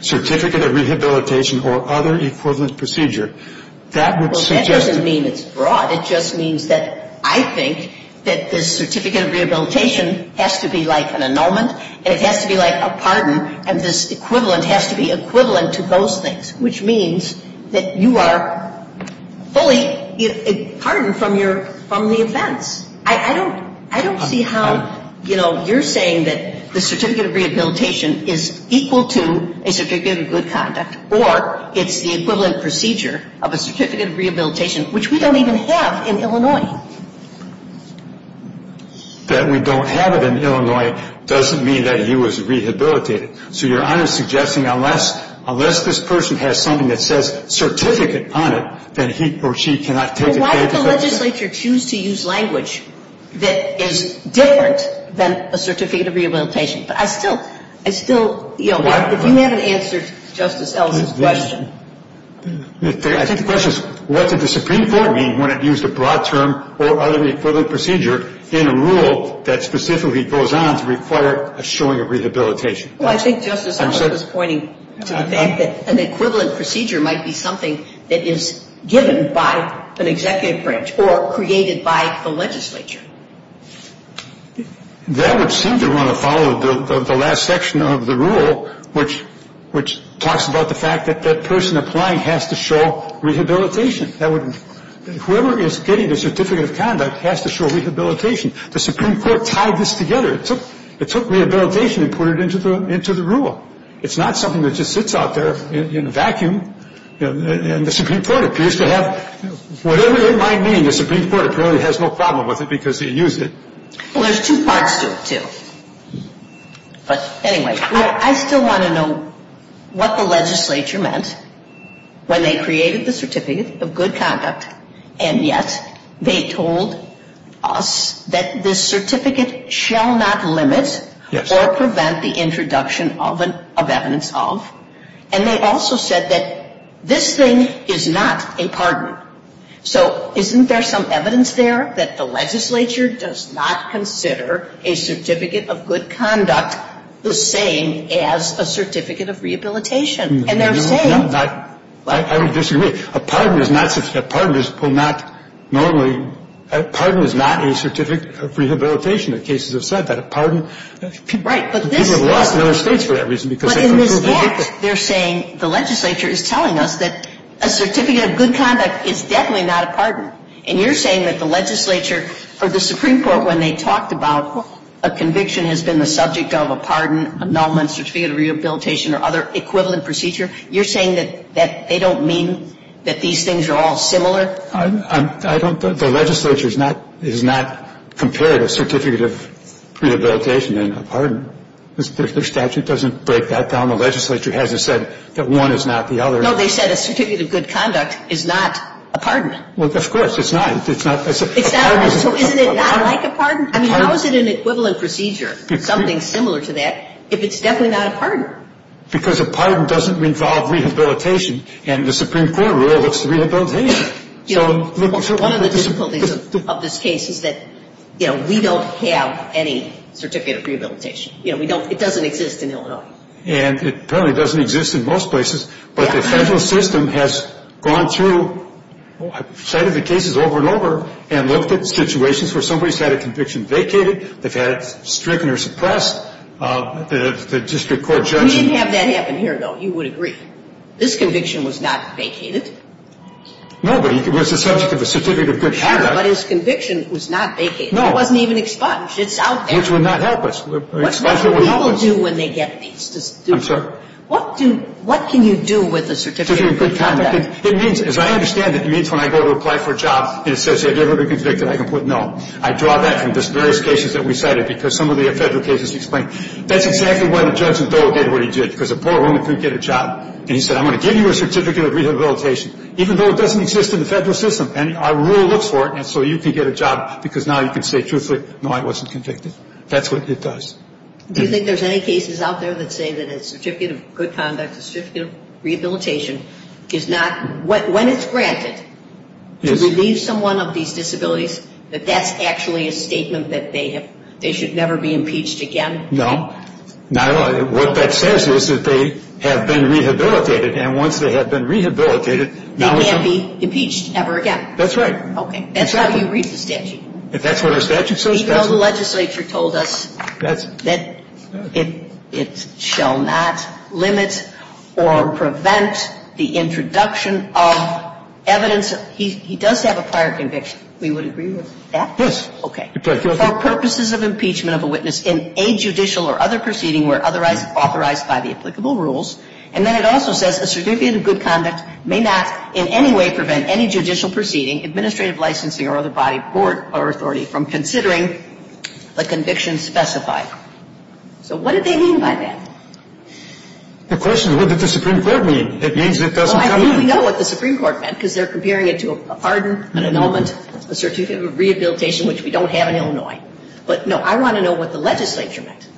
Certificate of rehabilitation or other equivalent procedure. Well, that doesn't mean it's broad. It just means that I think that this certificate of rehabilitation has to be like an annulment, and it has to be like a pardon, and this equivalent has to be equivalent to those things, which means that you are fully pardoned from the offense. I don't see how, you know, you're saying that the certificate of rehabilitation is equal to a certificate of good conduct or it's the equivalent procedure of a certificate of rehabilitation, which we don't even have in Illinois. That we don't have it in Illinois doesn't mean that he was rehabilitated. So Your Honor is suggesting unless this person has something that says certificate on it, then he or she cannot take advantage of it. Well, why would the legislature choose to use language that is different than a certificate of rehabilitation? But I still, you know, if you haven't answered Justice Ellis' question. I think the question is what did the Supreme Court mean when it used a broad term or other equivalent procedure in a rule that specifically goes on to require a showing of rehabilitation? Well, I think Justice Ellis was pointing to the fact that an equivalent procedure might be something that is given by an executive branch or created by the legislature. That would seem to want to follow the last section of the rule, which talks about the fact that that person applying has to show rehabilitation. Whoever is getting the certificate of conduct has to show rehabilitation. The Supreme Court tied this together. It took rehabilitation and put it into the rule. It's not something that just sits out there in a vacuum. And the Supreme Court appears to have, whatever it might mean, the Supreme Court apparently has no problem with it because he used it. Well, there's two parts to it, too. But anyway, I still want to know what the legislature meant when they created the certificate of good conduct, and yet they told us that this certificate shall not limit or prevent the introduction of evidence of. And they also said that this thing is not a pardon. So isn't there some evidence there that the legislature does not consider a certificate of good conduct the same as a certificate of rehabilitation? And they're saying. I would disagree. A pardon is not a certificate. A pardon is not normally. A pardon is not a certificate of rehabilitation. The cases have said that a pardon. Right. People have lost in other States for that reason. But in this book, they're saying the legislature is telling us that a certificate of good conduct is definitely not a pardon. And you're saying that the legislature or the Supreme Court, when they talked about a conviction has been the subject of a pardon, a non-certificate of rehabilitation or other equivalent procedure, you're saying that they don't mean that these things are all similar? I don't. The legislature has not compared a certificate of rehabilitation and a pardon. Their statute doesn't break that down. The legislature hasn't said that one is not the other. No, they said a certificate of good conduct is not a pardon. Well, of course it's not. It's not. It's not. So isn't it not like a pardon? I mean, how is it an equivalent procedure? Something similar to that if it's definitely not a pardon? Because a pardon doesn't involve rehabilitation. And the Supreme Court rule looks to rehabilitation. One of the difficulties of this case is that, you know, we don't have any certificate of rehabilitation. You know, it doesn't exist in Illinois. And it apparently doesn't exist in most places. But the federal system has gone through a set of the cases over and over and looked at situations where somebody's had a conviction vacated. They've had it stricken or suppressed. The district court judgment. We didn't have that happen here, though. You would agree. This conviction was not vacated. No, but it was the subject of a certificate of good conduct. But his conviction was not vacated. No. It wasn't even expunged. It's out there. Which would not help us. Expulsion would help us. What do people do when they get these? I'm sorry? What can you do with a certificate of good conduct? It means, as I understand it, it means when I go to apply for a job and it says I've never been convicted, I can put no. I draw that from the various cases that we cited because some of the federal cases explain. That's exactly why the judge in Dole did what he did. Because a poor woman couldn't get a job. And he said, I'm going to give you a certificate of rehabilitation, even though it doesn't exist in the federal system. And our rule looks for it. And so you can get a job because now you can say truthfully, no, I wasn't convicted. That's what it does. Do you think there's any cases out there that say that a certificate of good conduct, a certificate of rehabilitation, is not, when it's granted, to relieve someone of these disabilities, that that's actually a statement that they should never be impeached again? No. What that says is that they have been rehabilitated. And once they have been rehabilitated. They can't be impeached ever again. That's right. Okay. That's how you read the statute. If that's what our statute says. Even though the legislature told us that it shall not limit or prevent the introduction of evidence, he does have a prior conviction. We would agree with that? Yes. Okay. For purposes of impeachment of a witness in a judicial or other proceeding where otherwise authorized by the applicable rules. And then it also says a certificate of good conduct may not in any way prevent any judicial proceeding, administrative licensing or other body or authority from considering the conviction specified. So what did they mean by that? The question is, what did the Supreme Court mean? It means it doesn't come in. Well, I think we know what the Supreme Court meant because they're comparing it to a pardon, an annulment, a certificate of rehabilitation, which we don't have in Illinois. But, no, I want to know what the legislature meant.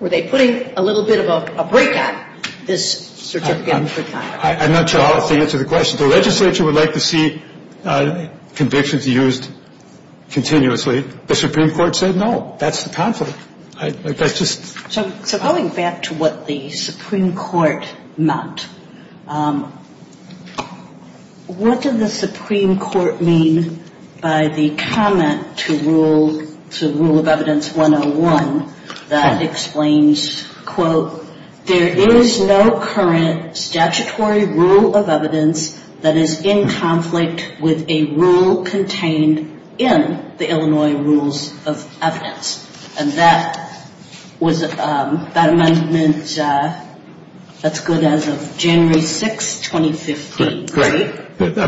Were they putting a little bit of a break on this certificate of good conduct? I'm not sure how to answer the question. The legislature would like to see convictions used continuously. The Supreme Court said no. That's the conflict. So going back to what the Supreme Court meant, what did the Supreme Court mean by the comment to rule of evidence that explains, quote, there is no current statutory rule of evidence that is in conflict with a rule contained in the Illinois rules of evidence. And that was that amendment that's good as of January 6, 2015. Correct. I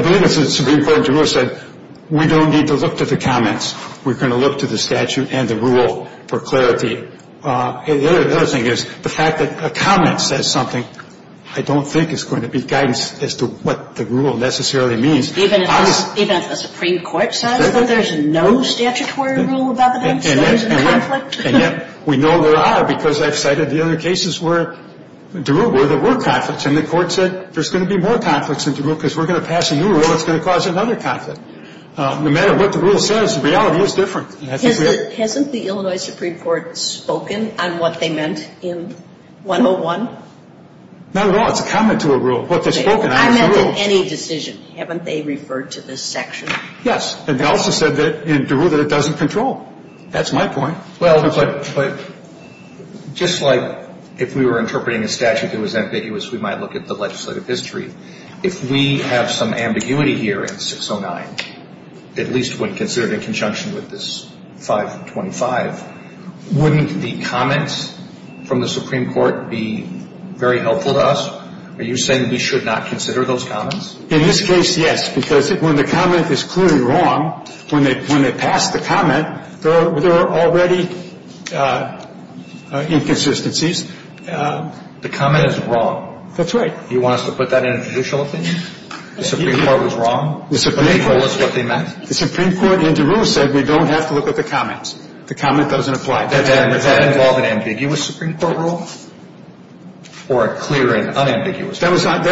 believe the Supreme Court said we don't need to look to the comments. We're going to look to the statute and the rule for clarity. The other thing is the fact that a comment says something I don't think is going to be guidance as to what the rule necessarily means. Even if the Supreme Court says that there's no statutory rule of evidence that is in conflict? And yet we know there are because I've cited the other cases where there were conflicts. And the Court said there's going to be more conflicts in the rule because we're going to pass a new rule that's going to cause another conflict. No matter what the rule says, the reality is different. Hasn't the Illinois Supreme Court spoken on what they meant in 101? Not at all. It's a comment to a rule. I meant in any decision. Haven't they referred to this section? Yes. And they also said in the rule that it doesn't control. That's my point. Well, but just like if we were interpreting a statute that was ambiguous, we might look at the legislative history. If we have some ambiguity here in 609, at least when considered in conjunction with this 525, wouldn't the comments from the Supreme Court be very helpful to us? Are you saying we should not consider those comments? In this case, yes. Because when the comment is clearly wrong, when they pass the comment, there are already inconsistencies. The comment is wrong. That's right. You want us to put that in a judicial opinion? The Supreme Court was wrong, but they told us what they meant? The Supreme Court in the rule said we don't have to look at the comments. The comment doesn't apply. Does that involve an ambiguous Supreme Court rule or a clear and unambiguous one? They thought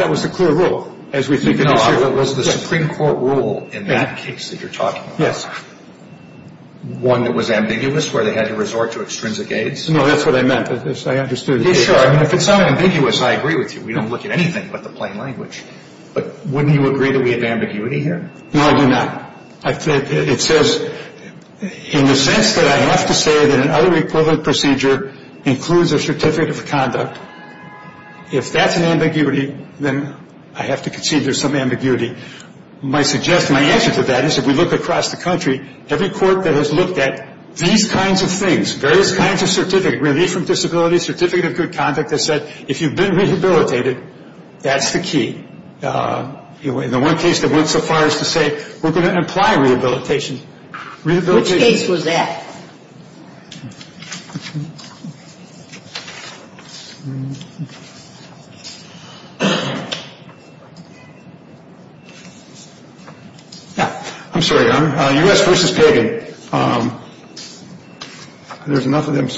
that was the clear rule, as we think it is here. No, it was the Supreme Court rule in that case that you're talking about. Yes. One that was ambiguous where they had to resort to extrinsic aides? No, that's what I meant. I understood. If it's unambiguous, I agree with you. We don't look at anything but the plain language. But wouldn't you agree that we have ambiguity here? No, I do not. It says, in the sense that I have to say that another equivalent procedure includes a certificate of conduct, if that's an ambiguity, then I have to concede there's some ambiguity. My answer to that is if we look across the country, every court that has looked at these kinds of things, various kinds of certificate, relief from disability, certificate of good conduct, has said if you've been rehabilitated, that's the key. The one case that went so far as to say we're going to imply rehabilitation. Which case was that? I'm sorry, Your Honor. U.S. v. Pagan. There's enough of them.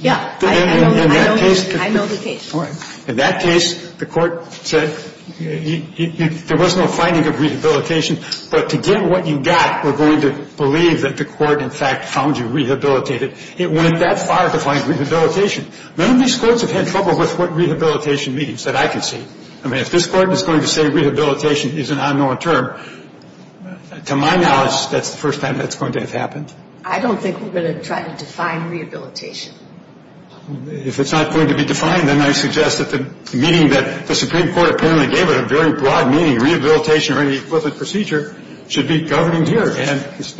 Yeah. I know the case. In that case, the court said there was no finding of rehabilitation. But to get what you got, we're going to believe that the court in fact found you rehabilitated. It went that far to find rehabilitation. None of these courts have had trouble with what rehabilitation means that I can see. I mean, if this Court is going to say rehabilitation is an unknown term, to my knowledge, that's the first time that's going to have happened. I don't think we're going to try to define rehabilitation. If it's not going to be defined, then I suggest that the meaning that the Supreme Court apparently gave it, a very broad meaning, rehabilitation or any equivalent procedure, should be governed here. Well, the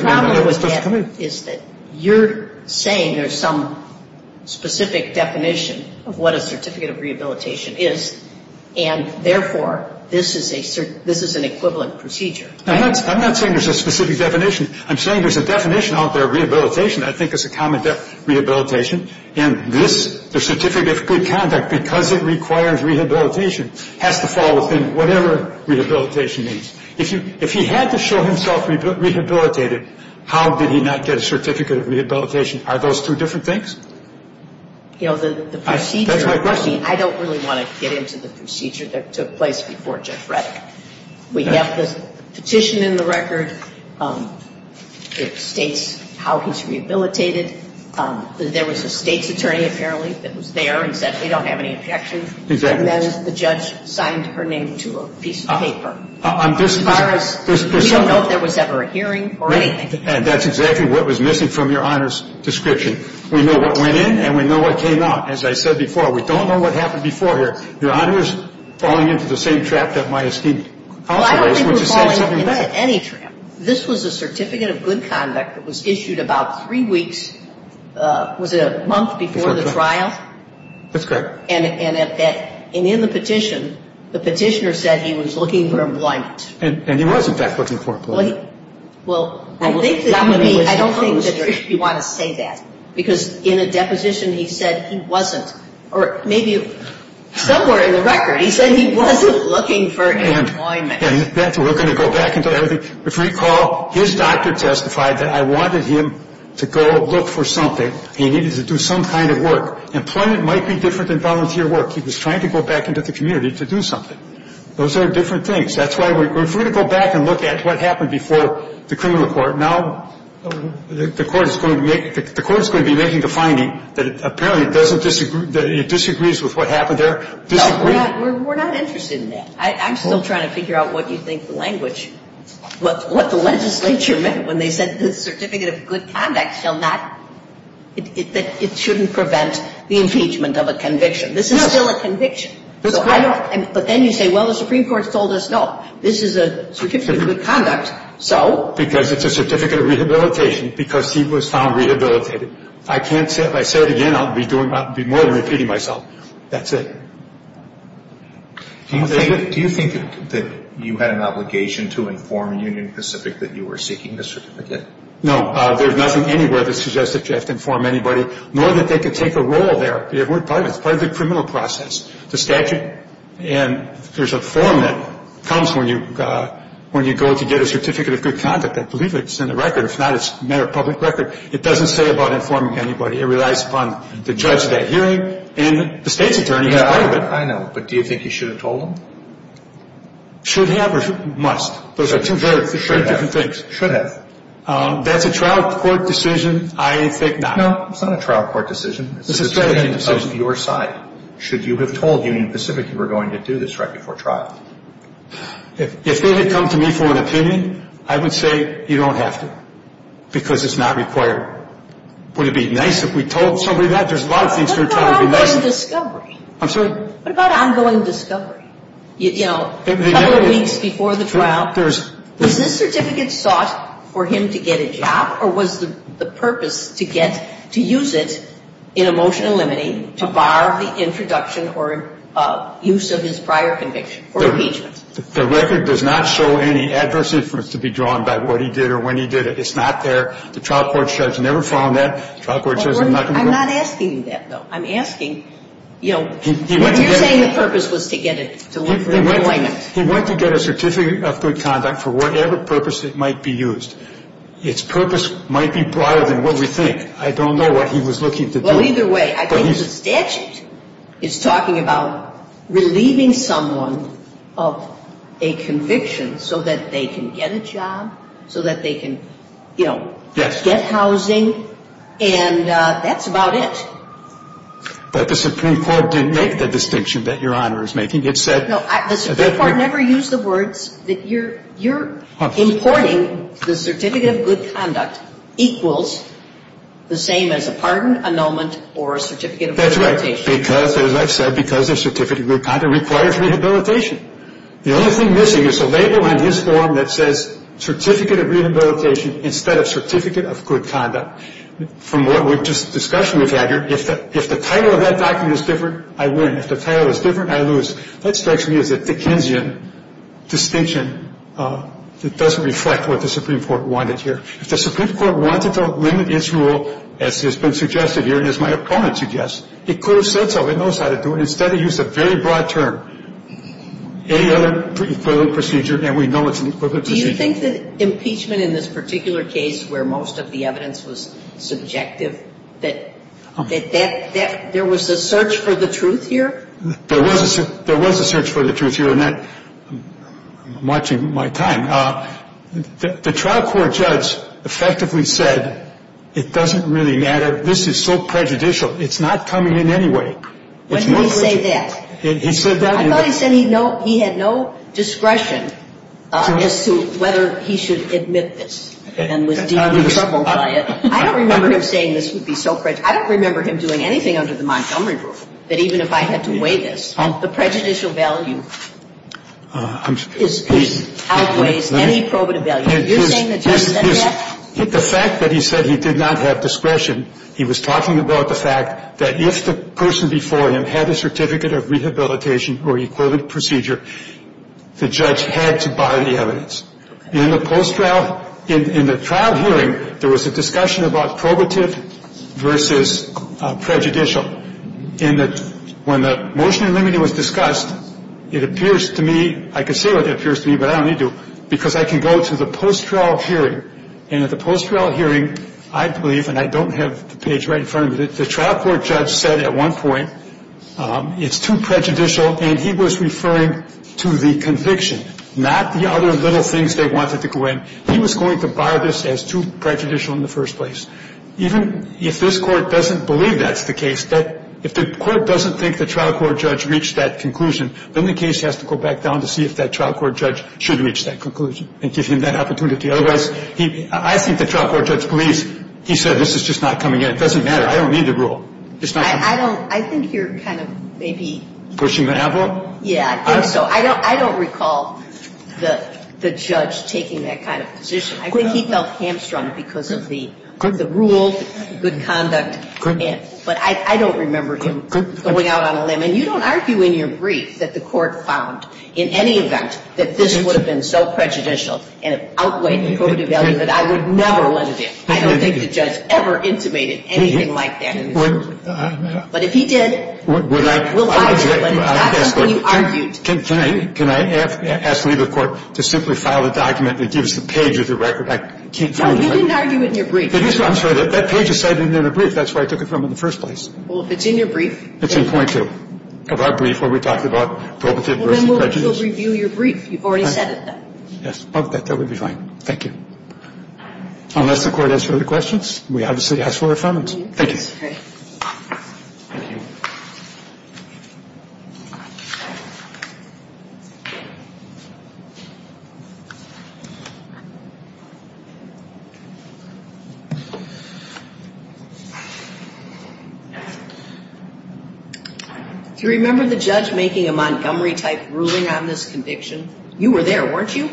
problem with that is that you're saying there's some specific definition of what a certificate of rehabilitation is. And, therefore, this is an equivalent procedure. I'm not saying there's a specific definition. I'm saying there's a definition out there of rehabilitation that I think is a common definition of rehabilitation. And the certificate of good conduct, because it requires rehabilitation, has to fall within whatever rehabilitation means. If he had to show himself rehabilitated, how did he not get a certificate of rehabilitation? Are those two different things? You know, the procedure, I don't really want to get into the procedure that took place before Judge Reddick. We have the petition in the record. It states how he's rehabilitated. There was a state's attorney, apparently, that was there and said we don't have any objections. And then the judge signed her name to a piece of paper. As far as we don't know if there was ever a hearing or anything. And that's exactly what was missing from Your Honor's description. We know what went in and we know what came out. As I said before, we don't know what happened before here. Your Honor is falling into the same trap that my esteemed counsel is. Well, I don't think we're falling into any trap. This was a certificate of good conduct that was issued about three weeks, was it a month before the trial? That's correct. And in the petition, the petitioner said he was looking for employment. And he was, in fact, looking for employment. Well, I don't think that you want to say that. Because in a deposition he said he wasn't. Or maybe somewhere in the record he said he wasn't looking for employment. And we're going to go back into everything. If you recall, his doctor testified that I wanted him to go look for something. He needed to do some kind of work. Employment might be different than volunteer work. He was trying to go back into the community to do something. Those are different things. That's why we're free to go back and look at what happened before the criminal court. Now the court is going to be making the finding that apparently it disagrees with what happened there. No, we're not interested in that. I'm still trying to figure out what you think the language, what the legislature meant when they said that the Certificate of Good Conduct shall not, that it shouldn't prevent the impeachment of a conviction. This is still a conviction. But then you say, well, the Supreme Court has told us, no, this is a Certificate of Good Conduct, so? Because it's a Certificate of Rehabilitation because he was found rehabilitated. I can't say it. If I say it again, I'll be more than repeating myself. That's it. Do you think that you had an obligation to inform Union Pacific that you were seeking the certificate? No. There's nothing anywhere that suggests that you have to inform anybody, nor that they could take a role there. We're private. It's part of the criminal process, the statute. And there's a form that comes when you go to get a Certificate of Good Conduct. I believe it's in the record. If not, it's a matter of public record. It doesn't say about informing anybody. It relies upon the judge at that hearing and the state's attorney in private. I know. But do you think you should have told them? Should have or must? Those are two very different things. Should have. That's a trial court decision. I think not. No, it's not a trial court decision. It's an attorney on your side. Should you have told Union Pacific you were going to do this right before trial? If they had come to me for an opinion, I would say you don't have to because it's not required. Would it be nice if we told somebody that? There's a lot of things we're trying to do. What about ongoing discovery? I'm sorry? What about ongoing discovery? You know, a couple of weeks before the trial. Does this certificate sought for him to get a job or was the purpose to get to use it in emotional limine to bar the introduction or use of his prior conviction or impeachment? The record does not show any adverse influence to be drawn by what he did or when he did it. It's not there. The trial court judge never found that. The trial court judge is not going to do that. I'm not asking that, though. I'm asking, you know, what you're saying the purpose was to get an employment. He went to get a certificate of good conduct for whatever purpose it might be used. Its purpose might be broader than what we think. I don't know what he was looking to do. Well, either way, I think the statute is talking about relieving someone of a conviction so that they can get a job, so that they can, you know, get housing, and that's about it. But the Supreme Court didn't make the distinction that Your Honor is making. It said. No, the Supreme Court never used the words that you're importing the certificate of good conduct equals the same as a pardon, annulment, or a certificate of rehabilitation. That's right, because, as I've said, because a certificate of good conduct requires rehabilitation. The only thing missing is a label on his form that says certificate of rehabilitation instead of certificate of good conduct. From what we've just discussed, we've had here, if the title of that document is different, I win. If the title is different, I lose. That strikes me as a Dickensian distinction that doesn't reflect what the Supreme Court wanted here. If the Supreme Court wanted to limit its rule, as has been suggested here and as my opponent suggests, it could have said so. It knows how to do it. Instead it used a very broad term. Any other equivalent procedure, and we know it's an equivalent procedure. Do you think that impeachment in this particular case where most of the evidence was subjective, that there was a search for the truth here? There was a search for the truth here, and I'm watching my time. The trial court judge effectively said it doesn't really matter. This is so prejudicial. It's not coming in any way. When he said that, I thought he said he had no discretion as to whether he should admit this and was deeply troubled by it. I don't remember him saying this would be so prejudicial. I don't remember him doing anything under the Montgomery rule that even if I had to weigh this, the prejudicial value outweighs any probative value. You're saying the judge said that? The fact that he said he did not have discretion, he was talking about the fact that if the person before him had a certificate of rehabilitation or equivalent procedure, the judge had to buy the evidence. In the post-trial, in the trial hearing, there was a discussion about probative versus prejudicial. And when the motion in limiting was discussed, it appears to me, I can say what it appears to me, but I don't need to, because I can go to the post-trial hearing, and at the post-trial hearing, I believe, and I don't have the page right in front of me, the trial court judge said at one point it's too prejudicial, and he was referring to the conviction, not the other little things they wanted to go in. He was going to bar this as too prejudicial in the first place. Even if this court doesn't believe that's the case, if the court doesn't think the trial court judge reached that conclusion, then the case has to go back down to see if that trial court judge should reach that conclusion and give him that opportunity. Otherwise, I think the trial court judge believes he said this is just not coming in. It doesn't matter. I don't need the rule. It's not coming in. I think you're kind of maybe pushing the envelope. Yeah, I think so. I don't recall the judge taking that kind of position. I think he felt hamstrung because of the rule, good conduct, but I don't remember him going out on a limb. And you don't argue in your brief that the court found in any event that this would have been so prejudicial and of outweighed and prohibitive value that I would never let it in. I don't think the judge ever intimated anything like that in his brief. But if he did, we'll argue. But it's not something you argued. Can I ask the legal court to simply file a document that gives the page of the record? I can't find it. No, you didn't argue it in your brief. I'm sorry. That page is cited in the brief. That's where I took it from in the first place. Well, if it's in your brief. It's in point two of our brief where we talked about prohibitive versus prejudicial. Well, then we'll let you review your brief. You've already said it then. Yes. That would be fine. Thank you. Unless the court has further questions, we obviously ask for affirmation. Thank you. All right. Thank you. Do you remember the judge making a Montgomery-type ruling on this conviction? You were there, weren't you?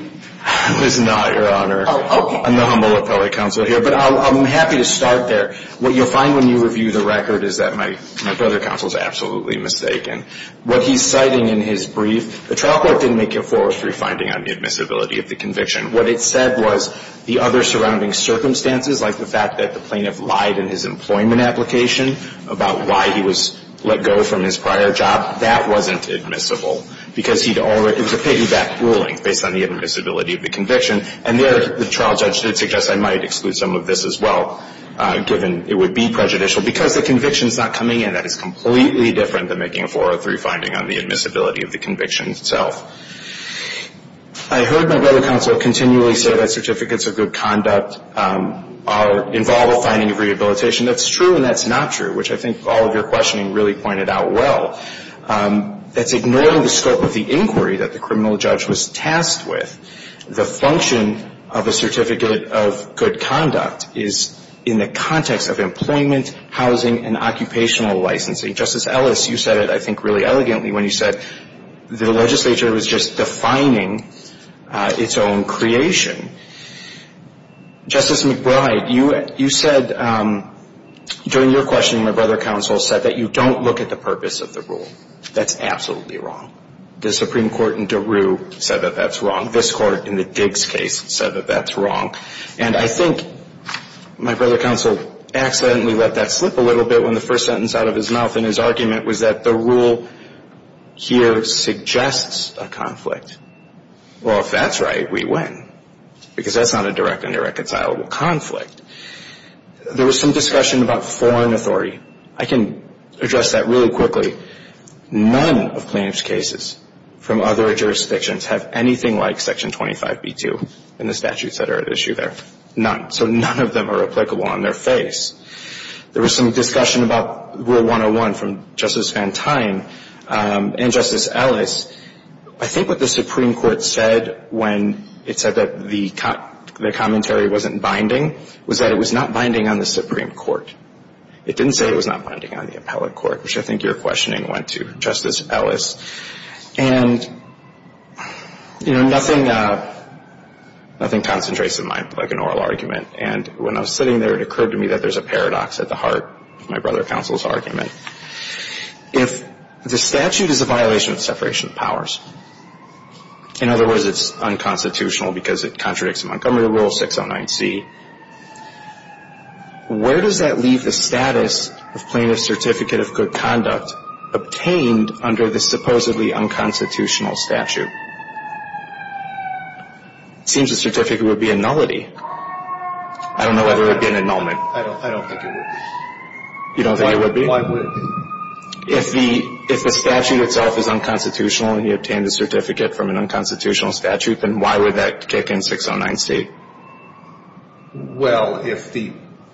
I was not, Your Honor. Oh, okay. I'm the humble appellate counsel here. But I'm happy to start there. What you'll find when you review the record is that my brother counsel is absolutely mistaken. What he's citing in his brief, the trial court didn't make a 403 finding on the admissibility of the conviction. What it said was the other surrounding circumstances, like the fact that the plaintiff lied in his employment application about why he was let go from his prior job, that wasn't admissible because it was a piggyback ruling based on the admissibility of the conviction. And there the trial judge did suggest I might exclude some of this as well, given it would be prejudicial, because the conviction is not coming in. That is completely different than making a 403 finding on the admissibility of the conviction itself. I heard my brother counsel continually say that certificates of good conduct involve a finding of rehabilitation. That's true and that's not true, which I think all of your questioning really pointed out well. That's ignoring the scope of the inquiry that the criminal judge was tasked with. The function of a certificate of good conduct is in the context of employment, housing, and occupational licensing. Justice Ellis, you said it I think really elegantly when you said the legislature was just defining its own creation. Justice McBride, you said during your questioning my brother counsel said that you don't look at the purpose of the rule. That's absolutely wrong. The Supreme Court in DeRue said that that's wrong. This Court in the Diggs case said that that's wrong. And I think my brother counsel accidentally let that slip a little bit when the first sentence out of his mouth in his argument was that the rule here suggests a conflict. Well, if that's right, we win, because that's not a direct and irreconcilable conflict. There was some discussion about foreign authority. I can address that really quickly. None of plaintiff's cases from other jurisdictions have anything like Section 25b-2 in the statutes that are at issue there. None. So none of them are applicable on their face. There was some discussion about Rule 101 from Justice Van Tine and Justice Ellis. I think what the Supreme Court said when it said that the commentary wasn't binding was that it was not binding on the Supreme Court. It didn't say it was not binding on the appellate court, which I think your questioning went to, Justice Ellis. And, you know, nothing concentrates in mind like an oral argument. And when I was sitting there, it occurred to me that there's a paradox at the heart of my brother counsel's argument. If the statute is a violation of separation of powers, in other words, it's unconstitutional because it contradicts Montgomery Rule 609C, where does that leave the status of plaintiff's certificate of good conduct obtained under the supposedly unconstitutional statute? It seems the certificate would be a nullity. I don't know whether it would be an annulment. I don't think it would be. You don't think it would be? Why wouldn't it be? If the statute itself is unconstitutional and you obtained a certificate from an unconstitutional statute, then why would that kick in 609C? Well, if the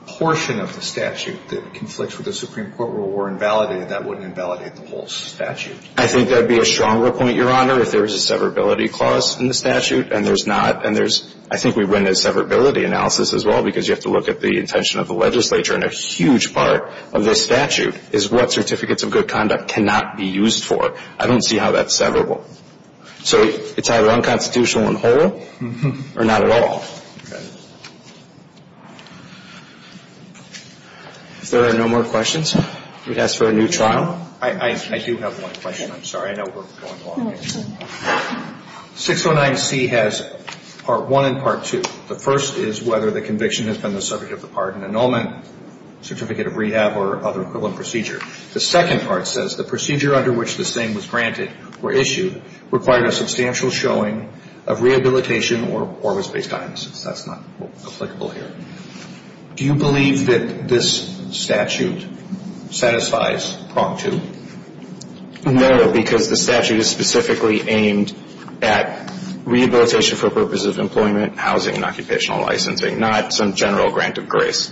portion of the statute that conflicts with the Supreme Court rule were invalidated, that wouldn't invalidate the whole statute. I think that would be a stronger point, Your Honor, if there was a severability clause in the statute and there's not. And there's – I think we've run a severability analysis as well because you have to look at the intention of the legislature. And a huge part of this statute is what certificates of good conduct cannot be used for. I don't see how that's severable. So it's either unconstitutional and whole or not at all. Okay. If there are no more questions, we'd ask for a new trial. I do have one question. I'm sorry. I know we're going long. 609C has Part 1 and Part 2. The first is whether the conviction has been the subject of the pardon, annulment, certificate of rehab, or other equivalent procedure. The second part says the procedure under which this thing was granted or issued required a substantial showing of rehabilitation or was based on innocence. That's not applicable here. Do you believe that this statute satisfies Part 2? No, because the statute is specifically aimed at rehabilitation for purposes of employment, housing, and occupational licensing, not some general grant of grace.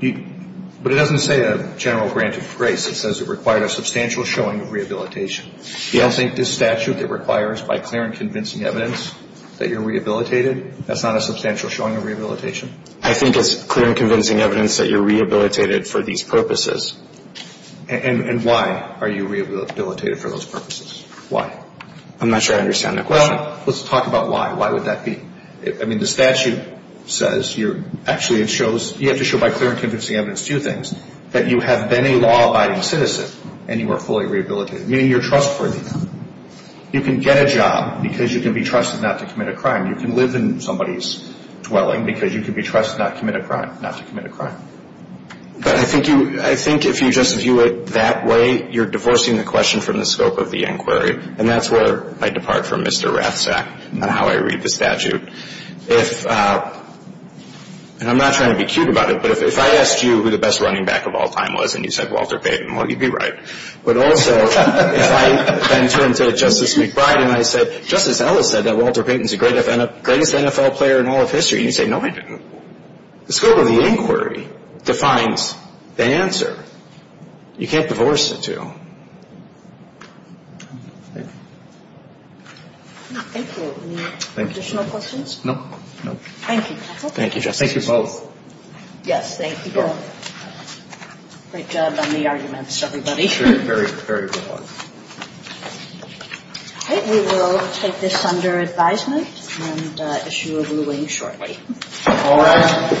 But it doesn't say a general grant of grace. It says it required a substantial showing of rehabilitation. You don't think this statute that requires by clear and convincing evidence that you're rehabilitated, that's not a substantial showing of rehabilitation? I think it's clear and convincing evidence that you're rehabilitated for these purposes. And why are you rehabilitated for those purposes? Why? I'm not sure I understand the question. Well, let's talk about why. Why would that be? I mean, the statute says you're actually, it shows, you have to show by clear and convincing evidence, two things, that you have been a law-abiding citizen and you are fully rehabilitated, meaning you're trustworthy. You can get a job because you can be trusted not to commit a crime. You can live in somebody's dwelling because you can be trusted not to commit a crime. I think if you just view it that way, you're divorcing the question from the scope of the inquiry, and that's where I depart from Mr. Rathsack on how I read the statute. If, and I'm not trying to be cute about it, but if I asked you who the best running back of all time was and you said Walter Payton, well, you'd be right. But also, if I then turned to Justice McBride and I said, Justice Ellis said that Walter Payton is the greatest NFL player in all of history, and you say, no, I didn't. The scope of the inquiry defines the answer. You can't divorce the two. Thank you. Any additional questions? No, no. Thank you. Thank you, Justice. Thank you both. Yes, thank you both. Great job on the arguments, everybody. Very, very good ones. Okay, we will take this under advisement and issue a ruling shortly. All rise.